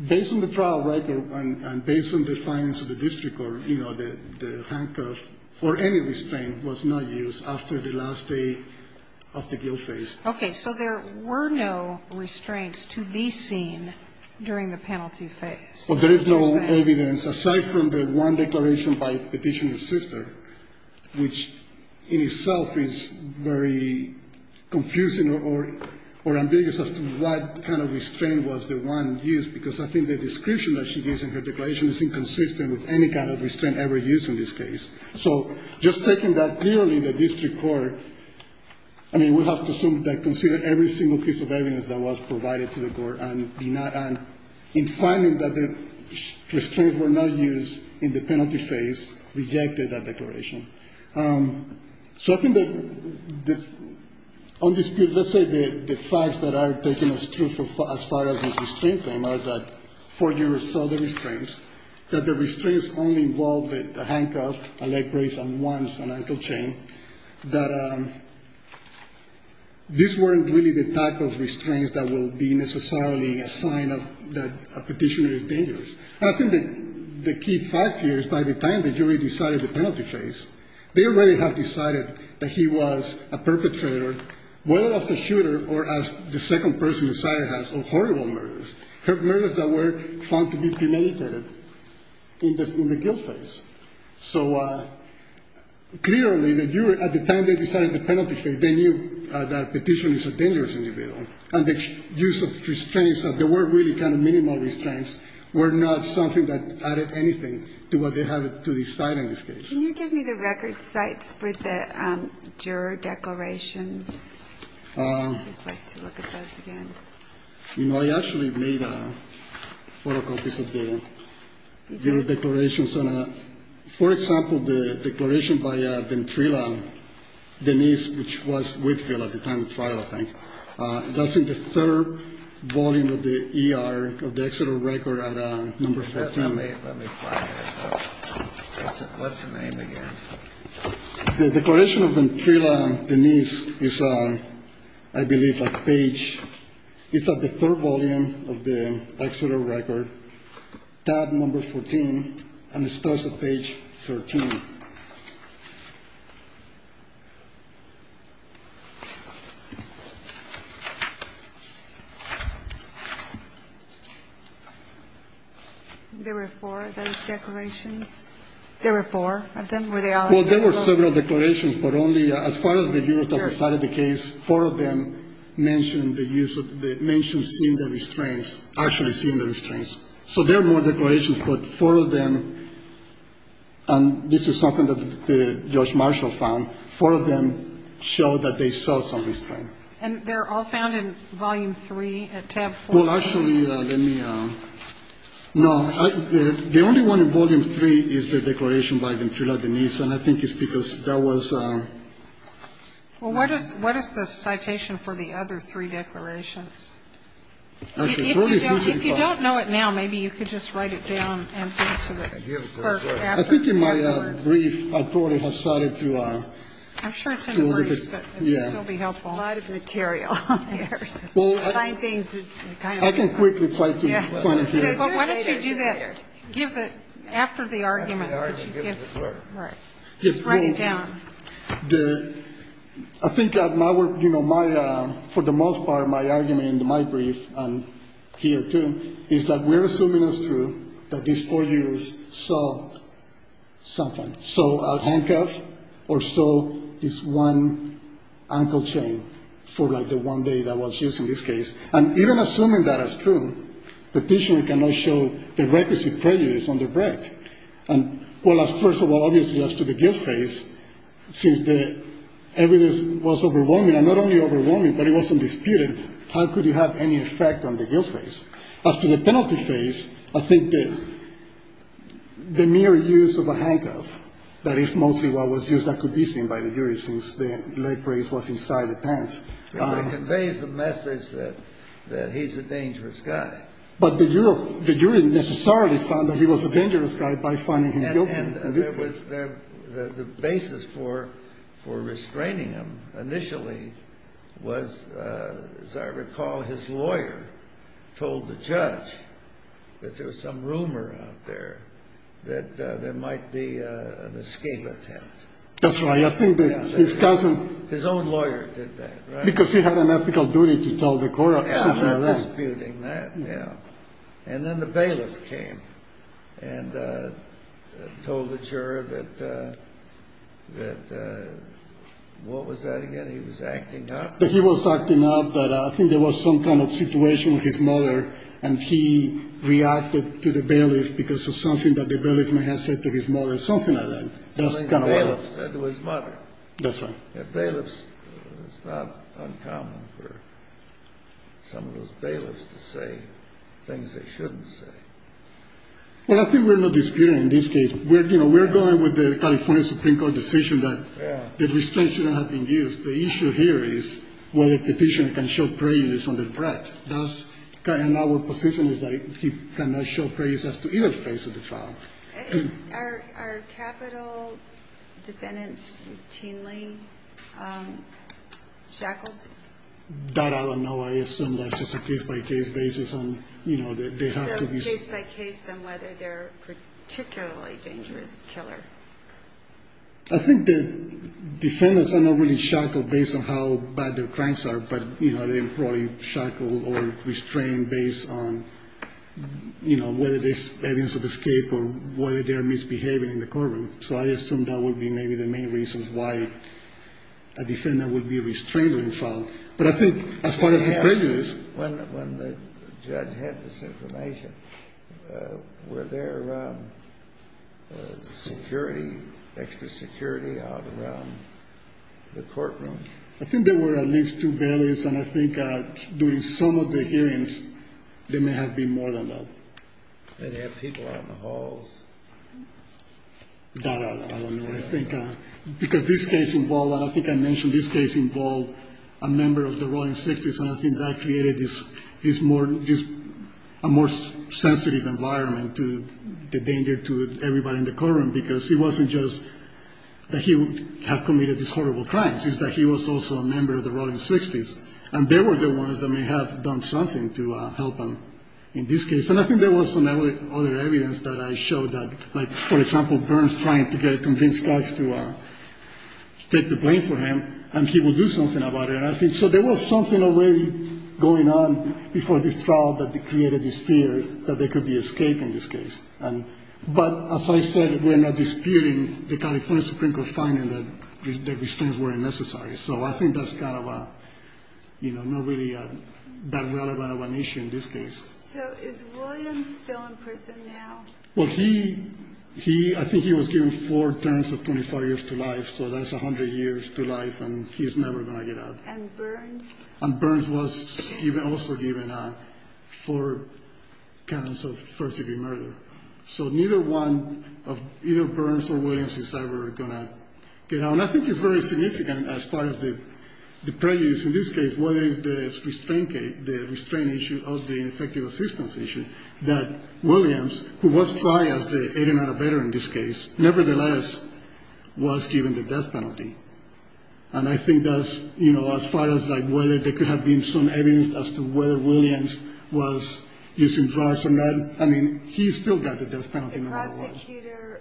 Based on the trial record and based on the findings of the district court, you know, the handcuff or any of these things was not used after the last day of the guilt phase. Okay, so there were no restraints to be seen during the penalty phase. Well, there is no evidence aside from the one declaration by the petitioner's sister, which in itself is very confusing or ambiguous as to what kind of restraint was the one used, because I think the description that she used in her declaration is inconsistent with any kind of restraint ever used in this case. So just taking that clearly, the district court, I mean, we have to assume that they considered every single piece of evidence that was provided to the court, and in finding that the restraints were not used in the penalty phase, rejected that declaration. So I think that on this case, let's say the facts that are taking us through as far as the restraint thing was that four jurors saw the restraints, that the restraints only involved a handcuff, a leg brace, and one financial chain, that these weren't really the type of restraints that would be necessarily a sign that a petitioner is dangerous. I think the key fact here is by the time the jury decided the penalty phase, they already had decided that he was a perpetrator, whether as a shooter or as the second person inside has, of horrible murders, murders that were found to be premeditated in the guilt phase. So clearly, the jury, at the time they decided the penalty phase, they knew that a petitioner is a dangerous individual, and the use of restraints, that there were really kind of minimal restraints, were not something that added anything to what they had to decide in this case. Can you give me the record sites for the juror declarations? I'd like to look at those again. You know, I actually made a photocopy of the juror declarations. For example, the declaration by Ventrilo, Denise, which was Whitfield at the time of trial, I think, that's in the third volume of the E.R., of the Exeter Record, at number 14. Let me find it. What's the name again? The declaration of Ventrilo, Denise, is on, I believe, a page. It's on the third volume of the Exeter Record, tab number 14, and it starts at page 13. There were four of those declarations? There were four? Well, there were several declarations, but only as far as the jurors that started the case, four of them mentioned seeing the restraints, actually seeing the restraints. So there were declarations, but four of them, and this is something that Judge Marshall found, four of them showed that they saw some restraints. And they're all found in volume three at tab 14? Well, actually, let me – no, the only one in volume three is the declaration by Ventrilo, Denise, and I think it's because there was – Well, what is the citation for the other three declarations? If you don't know it now, maybe you could just write it down and send it to the clerk. I think my brief authority has started to – I'm sure it's in the briefs, but this will be helpful. A lot of material on there. I can quickly try to find it here. Why don't you give it after the argument that you give to the clerk? Write it down. I think that my work – for the most part, my argument in my brief and here, too, is that we're assuming it's true that these four jurors saw something, saw a handcuff or saw this one ankle chain for, like, the one day that was used in this case. And even assuming that as true, the petitioner cannot show the requisite prejudice on the bread. And, well, first of all, obviously, as to the guilt phase, since the evidence was overwhelming, and not only overwhelming, but it wasn't disputed, how could it have any effect on the guilt phase? As to the penalty phase, I think that the mere use of a handcuff, that is mostly what was used as convincing by the jury since the lead praise was inside the pants. It conveys the message that he's a dangerous guy. But the jury necessarily found that he was a dangerous guy by finding him guilty. And the basis for restraining him, initially, was, as I recall, his lawyer told the judge that there was some rumor out there that there might be an escape attempt. That's right. I think that his cousin – His own lawyer did that, right? Because he had an ethical duty to tell the court. And then the bailiff came and told the juror that – what was that again? He was acting up? He was acting up, but I think there was some kind of situation with his mother, and he reacted to the bailiff because of something that the bailiff may have said to his mother, or something like that. Something the bailiff said to his mother. That's right. The bailiff – it's not uncommon for some of those bailiffs to say things they shouldn't say. Well, I think we're not disputing in this case. We're going with the California Supreme Court decision that the restraints shouldn't have been used. The issue here is whether the petitioner can show praise on the threat. And our position is that he cannot show praise as to either face of the trial. Are capital defendants routinely shackled? That I don't know. I assume that's just a case-by-case basis. They're case-by-case on whether they're a particularly dangerous killer. I think the defendants are not really shackled based on how bad their crimes are, but, you know, they're probably shackled or restrained based on, you know, whether there's evidence of escape or whether they're misbehaving in the courtroom. So I assume that would be maybe the main reason why a defendant would be restrained in trial. But I think as part of the prejudice – When the judge had this information, were there security, extra security out around the courtroom? I think there were at least two barriers. And I think during some of the hearings, there may have been more than that. Did they have people out in the halls? That I don't know. I think because this case involved – and I think I mentioned this case involved a member of the royal inspectors, and I think that created this more – just a more sensitive environment to the danger to everybody in the courtroom because it wasn't just that he had committed these horrible crimes. It's that he was also a member of the royal inspectors, and they were the ones that may have done something to help him in this case. And I think there was some other evidence that I showed that, like, for example, Burns trying to get a convinced judge to take the blame for him, and he will do something about it. So there was something already going on before this trial that created this fear that there could be escape in this case. But as I said, we're not disputing the California Supreme Court finding that these things weren't necessary. So I think that's kind of a – not really that relevant of an issue in this case. So is William still in prison now? Well, he – I think he was given four terms of 25 years to life, so that's 100 years to life, and he's never going to get out. And Burns? And Burns was also given four terms of first-degree murder. So neither one of – either Burns or Williams is ever going to get out. And I think it's very significant as far as the prejudice in this case, whether it's the restraint issue of the Infectious Disease Commission, that Williams, who was tried as the 89th veteran in this case, nevertheless was given the death penalty. And I think that's, you know, as far as, like, whether there could have been some evidence as to whether Williams was using drugs, and then – I mean, he still got the death penalty, no matter what. The drugs that shooter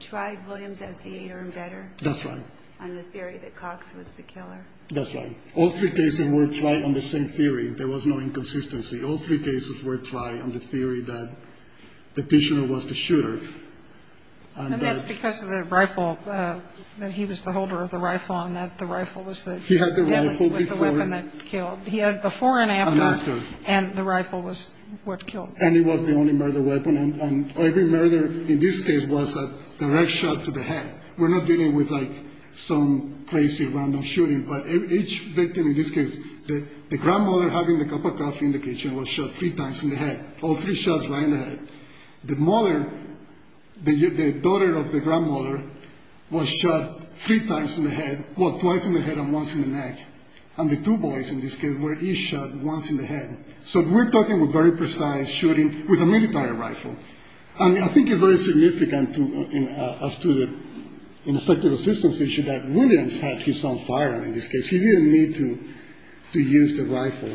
tried Williams as the 8th veteran? That's right. And the theory that Cox was the killer? That's right. All three cases were tried on the same theory. There was no inconsistency. All three cases were tried on the theory that the prisoner was the shooter. And that's because of the rifle. He was the holder of the rifle, and the rifle was the weapon that killed. He had before and after, and the rifle was what killed. And it was the only murder weapon. And every murder in this case was a direct shot to the head. We're not dealing with, like, some crazy, random shooting. But each victim in this case – the grandmother having the cup of coffee in the kitchen was shot three times in the head. All three shots were in the head. The mother – the daughter of the grandmother was shot three times in the head – well, twice in the head and once in the neck. And the two boys in this case were each shot once in the head. So we're talking a very precise shooting with a military rifle. I mean, I think it's very significant to us to, in respect to the systems issue, that Williams had his own firearm in this case. He didn't need to use the rifle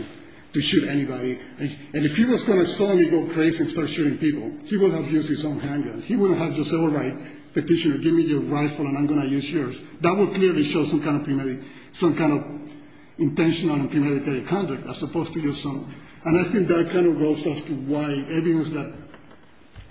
to shoot anybody. And if he was going to suddenly go crazy and start shooting people, he would have used his own handgun. He wouldn't have just said, all right, Petitioner, give me your rifle and I'm going to use yours. That would clearly show some kind of intentional or premeditated conduct as opposed to just some – and I think that kind of goes off to why evidence that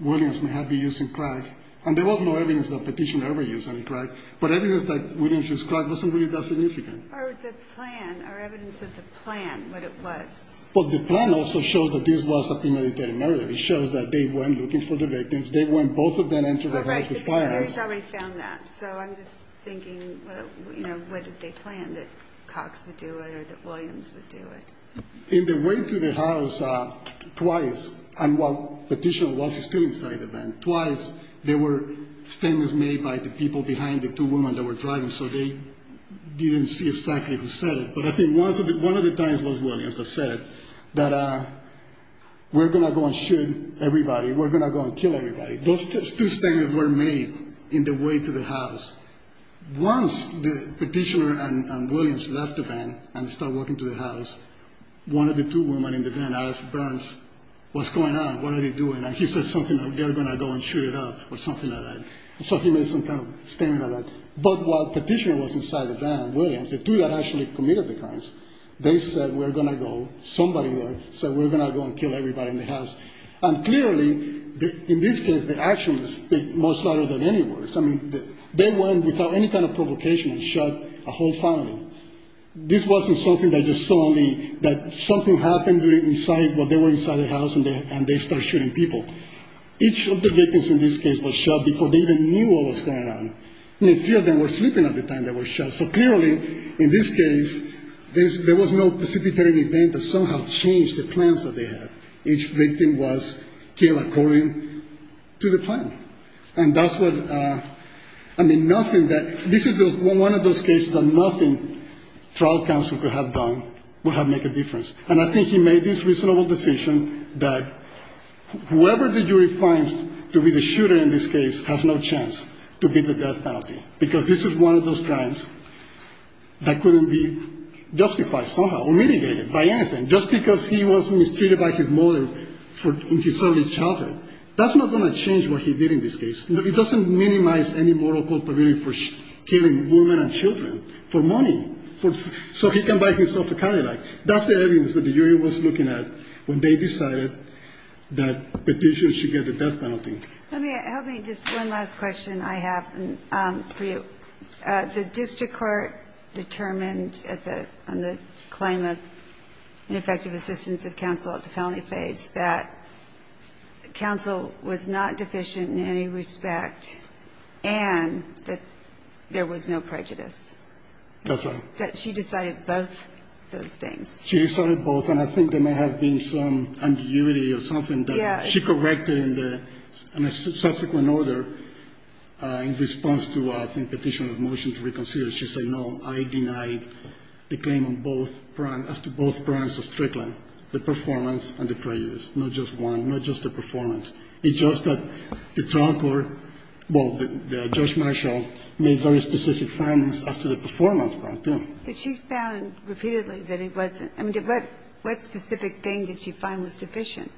Williams may have been using crack – and there was no evidence that Petitioner ever used any crack, but evidence that Williams used crack wasn't really that significant. Or the plan, or evidence that the plan would have worked. But the plan also shows that this was a premeditated murder. It shows that they weren't looking for the rapists. They weren't both of them into the house of fire. All right, but Petitioner's already found that. So I'm just thinking, you know, what did they plan, that Cox would do it or that Williams would do it? In the way to the house, twice, and while Petitioner was still inside the van, twice, there were things made by the people behind the two women that were driving, so they didn't see exactly who said it. But I think one of the times it was Williams that said that we're going to go and shoot everybody. We're going to go and kill everybody. Those two statements were made in the way to the house. Once Petitioner and Williams left the van and started walking to the house, one of the two women in the van asked Burns, what's going on? What are they doing? And he said something like, they're going to go and shoot it up or something like that. So he made some kind of statement. But while Petitioner was inside the van, Williams, the two that actually committed the crimes, they said we're going to go, somebody said we're going to go and kill everybody in the house. And clearly, in this case, the actions speak louder than any words. I mean, they went without any kind of provocation and shot a whole family. This wasn't something that just saw that something happened inside, while they were inside the house and they started shooting people. Each of the victims in this case was shot before they even knew what was going on. And a few of them were sleeping at the time they were shot. So clearly, in this case, there was no specific event that somehow changed the plans that they had. Each victim was killed according to the plan. And that's what, I mean, nothing that, this is one of those cases that nothing trial counsel could have done would have made a difference. And I think he made this reasonable decision that whoever the jury finds to be the shooter in this case has no chance to get the death penalty. Because this is one of those crimes that couldn't be justified somehow or mitigated by anything. Just because he was mistreated by his mother in his early childhood, that's not going to change what he did in this case. It doesn't minimize any moral culpability for killing women and children for money. So he can buy himself a kind of life. That's the evidence that the jury was looking at when they decided that the shooter should get the death penalty. Let me, just one last question I have for you. The district court determined in the claim of ineffective assistance of counsel at the felony stage that counsel was not deficient in any respect and that there was no prejudice. That's right. That she decided both those things. She decided both, and I think there may have been some ambiguity or something that she corrected in a subsequent order in response to a petition of motion to reconsider. She said, no, I denied the claim on both crimes, after both crimes of trickling, the performance and the prejudice. Not just one, not just the performance. It's just that the trial court, well, Judge Marshall, made very specific findings as to the performance, I think. But she found repeatedly that he wasn't, I mean, what specific thing did she find was sufficient?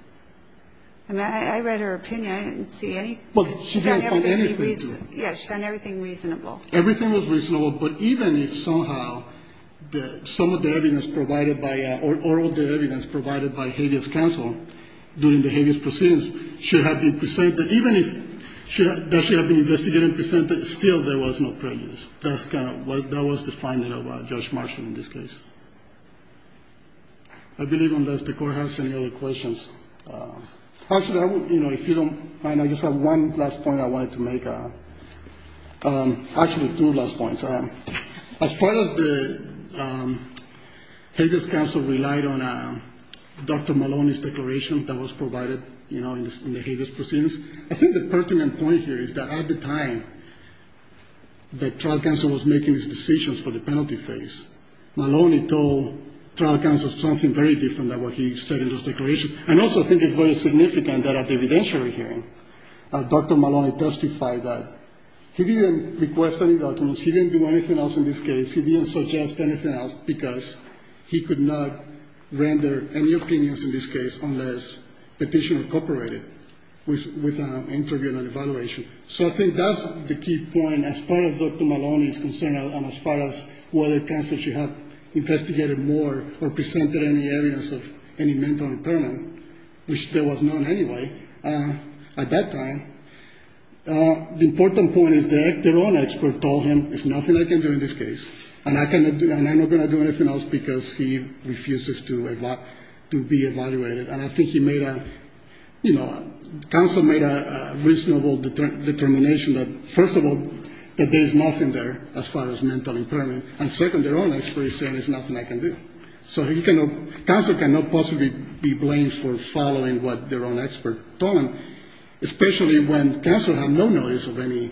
I mean, I read her opinion. I didn't see anything. Well, she didn't find anything. Yeah, she found everything reasonable. Everything was reasonable, but even if somehow some of the evidence provided by, during the habeas proceedings should have been presented, even if that should have been investigated and presented, still there was no prejudice. That was the finding of Judge Marshall in this case. I believe unless the court has any other questions. Actually, I would, you know, if you don't mind, I just have one last point I wanted to make. Actually, two last points. As far as the habeas counsel relied on Dr. Maloney's declaration that was provided, you know, in the habeas proceedings, I think the pertinent point here is that at the time that trial counsel was making his decisions for the penalty phase, Maloney told trial counsel something very different than what he said in those declarations. And also, I think it's very significant that at the evidential hearing, Dr. Maloney testified that he didn't request any documents. He didn't do anything else in this case. He didn't suggest anything else because he could not render any opinions in this case unless the petitioner cooperated with an interview and an evaluation. So I think that's the key point as far as Dr. Maloney is concerned and as far as whether counsel should have investigated more or presented any evidence of any mental impairment, which there was none anyway at that time. The important point is that their own expert told him there's nothing I can do in this case, and I'm not going to do anything else because he refuses to be evaluated. And I think he made a, you know, counsel made a reasonable determination that, first of all, that there is nothing there as far as mental impairment, and second, their own expert said there's nothing I can do. So counsel cannot possibly be blamed for following what their own expert told them, especially when counsel had no notice of any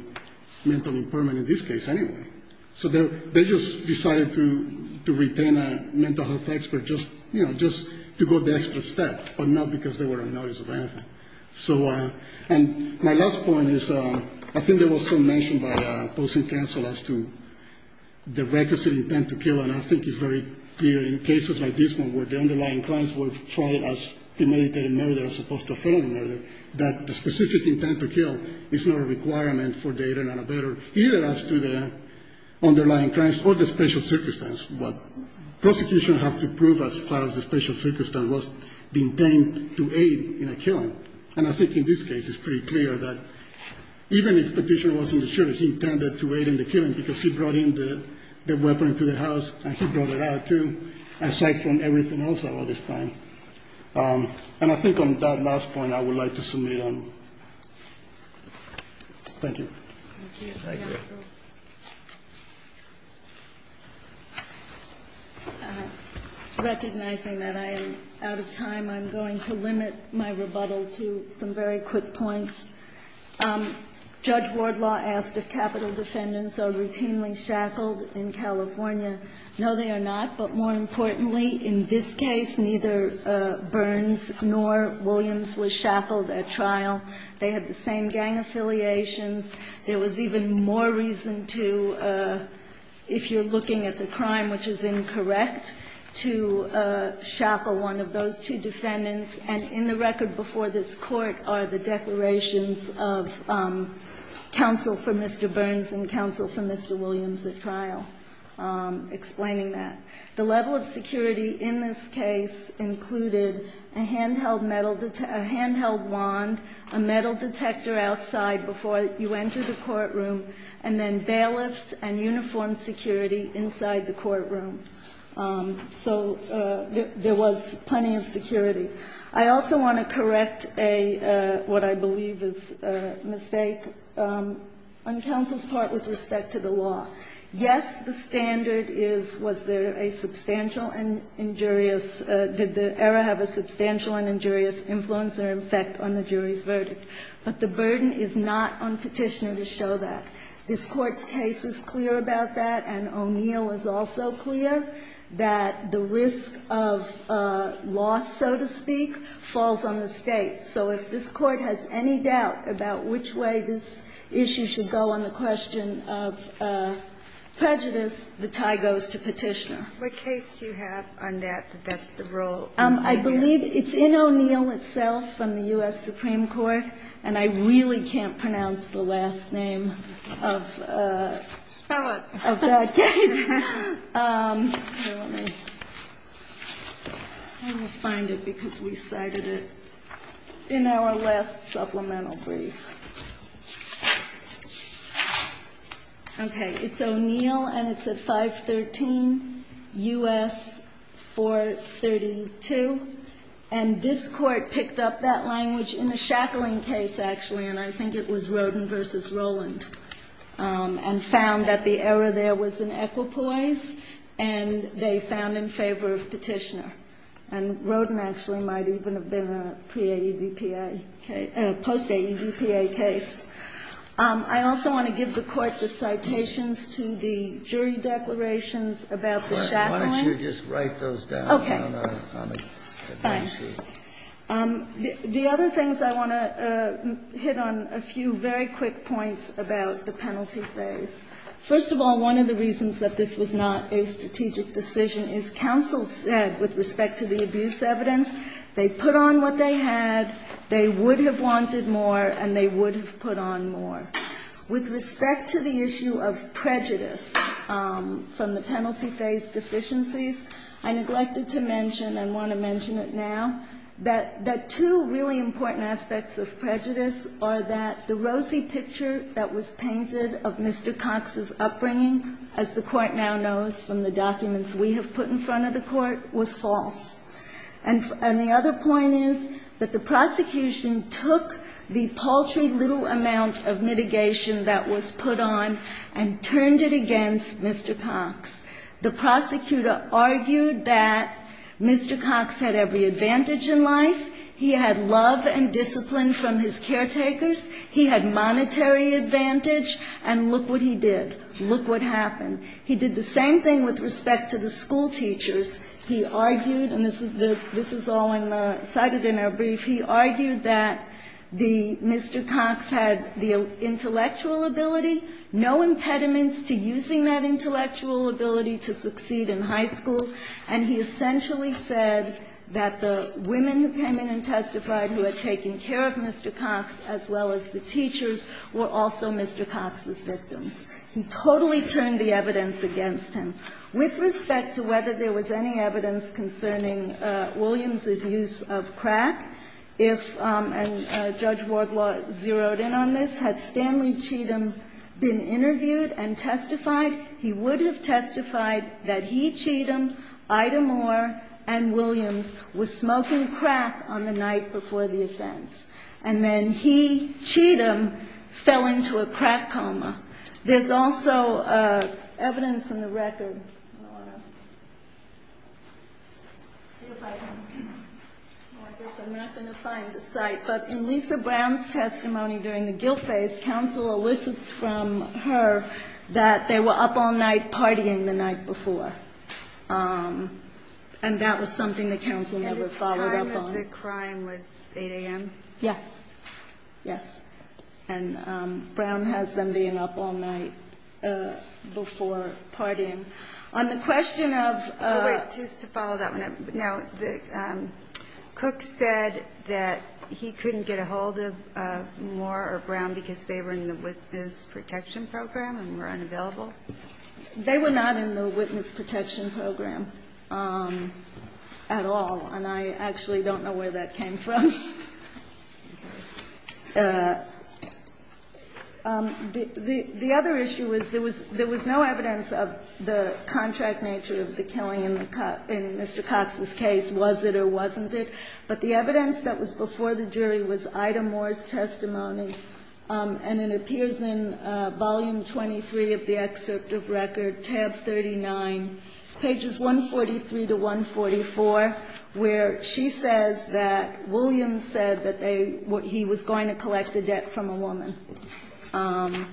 mental impairment in this case anyway. So they just decided to retain a mental health expert just, you know, just to go the extra step, but not because there were a notice of anything. And my last point is I think there was some mention that opposing counsel as to the vacancy intent to kill, and I think it's very clear in cases like this one where the underlying crimes were tried as committed a murder as opposed to a felony murder, that the specific intent to kill is not a requirement for data and a better, either as to the underlying crimes or the special circumstances, but prosecution has to prove as far as the special circumstance was the intent to aid in the killing. And I think in this case it's pretty clear that even if the petitioner wasn't sure if he intended to aid in the killing because he brought in the weapon to the house and he brought it out too, aside from everything else at all this time. And I think on that last point I would like to submit on. Thank you. Thank you. Recognizing that I am out of time, I'm going to limit my rebuttal to some very quick points. Judge Wardlaw asked if capital defendants are routinely shackled in California. No, they are not. But more importantly, in this case, neither Burns nor Williams was shackled at trial. They had the same gang affiliations. There was even more reason to, if you're looking at the crime which is incorrect, to shackle one of those two defendants. And in the record before this court are the declarations of counsel for Mr. Burns and counsel for Mr. Williams at trial explaining that. The level of security in this case included a handheld wand, a metal detector outside before you enter the courtroom, and then bailiffs and uniformed security inside the courtroom. So there was plenty of security. I also want to correct what I believe is a mistake on counsel's part with respect to the law. Yes, the standard is was there a substantial and injurious, did the error have a substantial and injurious influence or effect on the jury's verdict. But the burden is not on petitioner to show that. This court's case is clear about that, and O'Neill is also clear that the risk of loss, so to speak, falls on the state. So if this court has any doubt about which way this issue should go on the question of prejudice, the tie goes to petitioner. What case do you have on that that's the rule? I believe it's in O'Neill itself from the U.S. Supreme Court, and I really can't pronounce the last name of that case. Let me find it because we cited it in our last supplemental brief. Okay, it's O'Neill, and it's at 513 U.S. 432. And this court picked up that language in the Shacklin case, actually, and I think it was Rodin v. Roland, and found that the error there was an equipoise, and they found in favor of petitioner. And Rodin actually might even have been a post-AEDPA case. I also want to give the court the citations to the jury declarations about the Shacklin. Why don't you just write those down? Okay. The other things I want to hit on are a few very quick points about the penalty phase. First of all, one of the reasons that this was not a strategic decision is counsel said, with respect to the abuse evidence, they put on what they had, they would have wanted more, and they would have put on more. With respect to the issue of prejudice from the penalty phase deficiencies, I neglected to mention, and want to mention it now, that two really important aspects of prejudice are that the rosy picture that was painted of Mr. Cox's upbringing, as the court now knows from the documents we have put in front of the court, was false. And the other point is that the prosecution took the paltry little amount of mitigation that was put on, and turned it against Mr. Cox. The prosecutor argued that Mr. Cox had every advantage in life. He had love and discipline from his caretakers. He had monetary advantage, and look what he did. Look what happened. He did the same thing with respect to the school teachers. He argued, and this is all cited in our brief, he argued that Mr. Cox had the intellectual ability, no impediments to using that intellectual ability to succeed in high school, and he essentially said that the women who came in and testified who had taken care of Mr. Cox, as well as the teachers, were also Mr. Cox's victims. He totally turned the evidence against him. With respect to whether there was any evidence concerning Williams' use of crack, and Judge Wardlaw zeroed in on this, had Stanley Cheatham been interviewed and testified, he would have testified that he, Cheatham, Ida Moore, and Williams were smoking crack on the night before the offense. And then he, Cheatham, fell into a crack coma. There's also evidence in the record. I'm not going to find the site, but in Lisa Brown's testimony during the guilt phase, counsel elicits from her that they were up all night partying the night before, and that was something the counsel never followed up on. I understood crying was 8 a.m. Yes, yes, and Brown has them being up all night before partying. On the question of- Just to follow that one up, now, Cook said that he couldn't get a hold of Moore or Brown because they were in the Witness Protection Program and were unavailable. They were not in the Witness Protection Program at all, and I actually don't know where that came from. The other issue is there was no evidence of the contract nature of the killing in Mr. Cox's case, was it or wasn't it, but the evidence that was before the jury was Ida Moore's testimony, and it appears in volume 23 of the excerpt of record, tab 39, pages 143 to 144, where she says that Williams said that he was going to collect the debt from a woman, and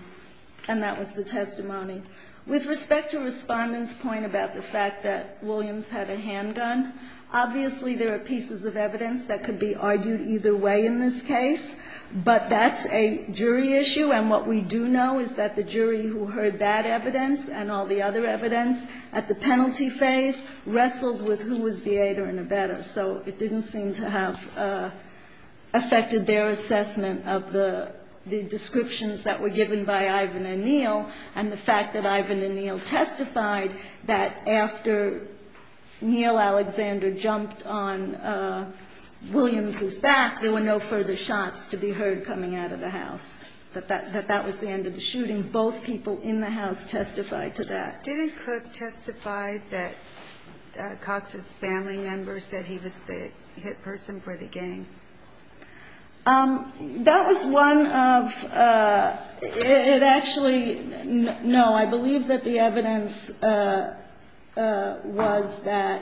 that was the testimony. With respect to Respondent's point about the fact that Williams had a handgun, obviously there are pieces of evidence that could be argued either way in this case, but that's a jury issue, and what we do know is that the jury who heard that evidence and all the other evidence at the penalty phase wrestled with who was the aider and abettor, so it didn't seem to have affected their assessment of the descriptions that were given by Ivan and Neal, and the fact that Ivan and Neal testified that after Neal Alexander jumped on Williams' back, there were no further shots to be heard coming out of the house, that that was the end of the shooting. Both people in the house testified to that. Did his hook testify that Cox's family members said he was the hit person for the gang? That was one of – it actually – no, I believe that the evidence was that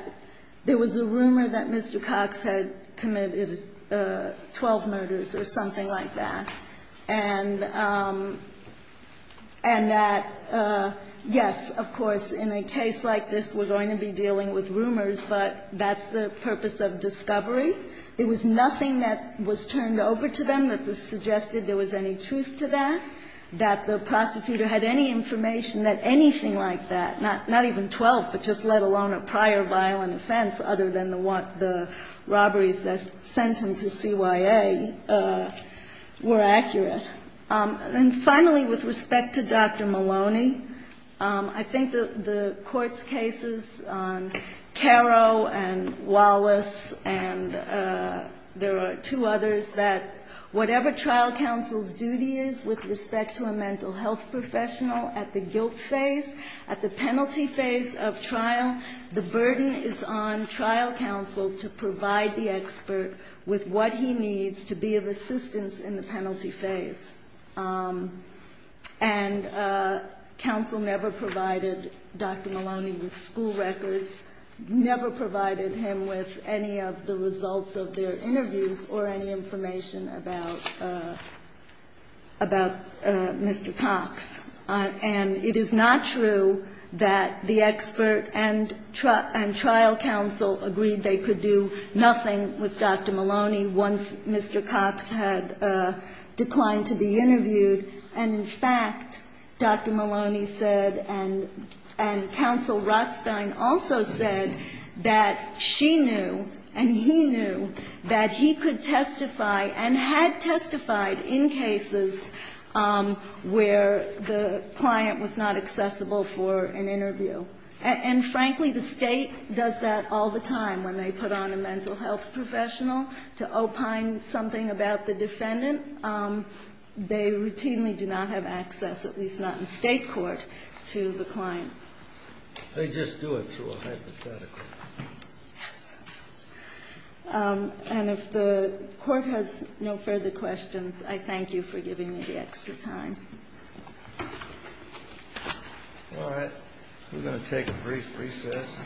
there was a rumor that Mr. Cox had committed 12 murders or something like that, and that, yes, of course, in a case like this we're going to be dealing with rumors, but that's the purpose of discovery. It was nothing that was turned over to them that suggested there was any truth to that, that the prosecutor had any information that anything like that, not even 12, but just let alone a prior violent offense other than the robberies that sent him to CYA, were accurate. And finally, with respect to Dr. Maloney, I think the court's cases on Caro and Wallace and there are two others, that whatever trial counsel's duty is with respect to a mental health professional at the guilt phase, at the penalty phase of trial, the burden is on trial counsel to provide the expert with what he needs to be of assistance in the penalty phase. And counsel never provided Dr. Maloney with school records, never provided him with any of the results of their interviews or any information about Mr. Cox. And it is not true that the expert and trial counsel agreed they could do nothing with Dr. Maloney once Mr. Cox had declined to be interviewed. And in fact, Dr. Maloney said and counsel Rothstein also said that she knew and he knew that he could testify and had testified in cases where the client was not accessible for an interview. And frankly, the state does that all the time when they put on a mental health professional to opine something about the defendant. They routinely do not have access, at least not in state court, to the client. They just do it so hypothetically. And if the court has no further questions, I thank you for giving me the extra time. All right. We're going to take a brief recess.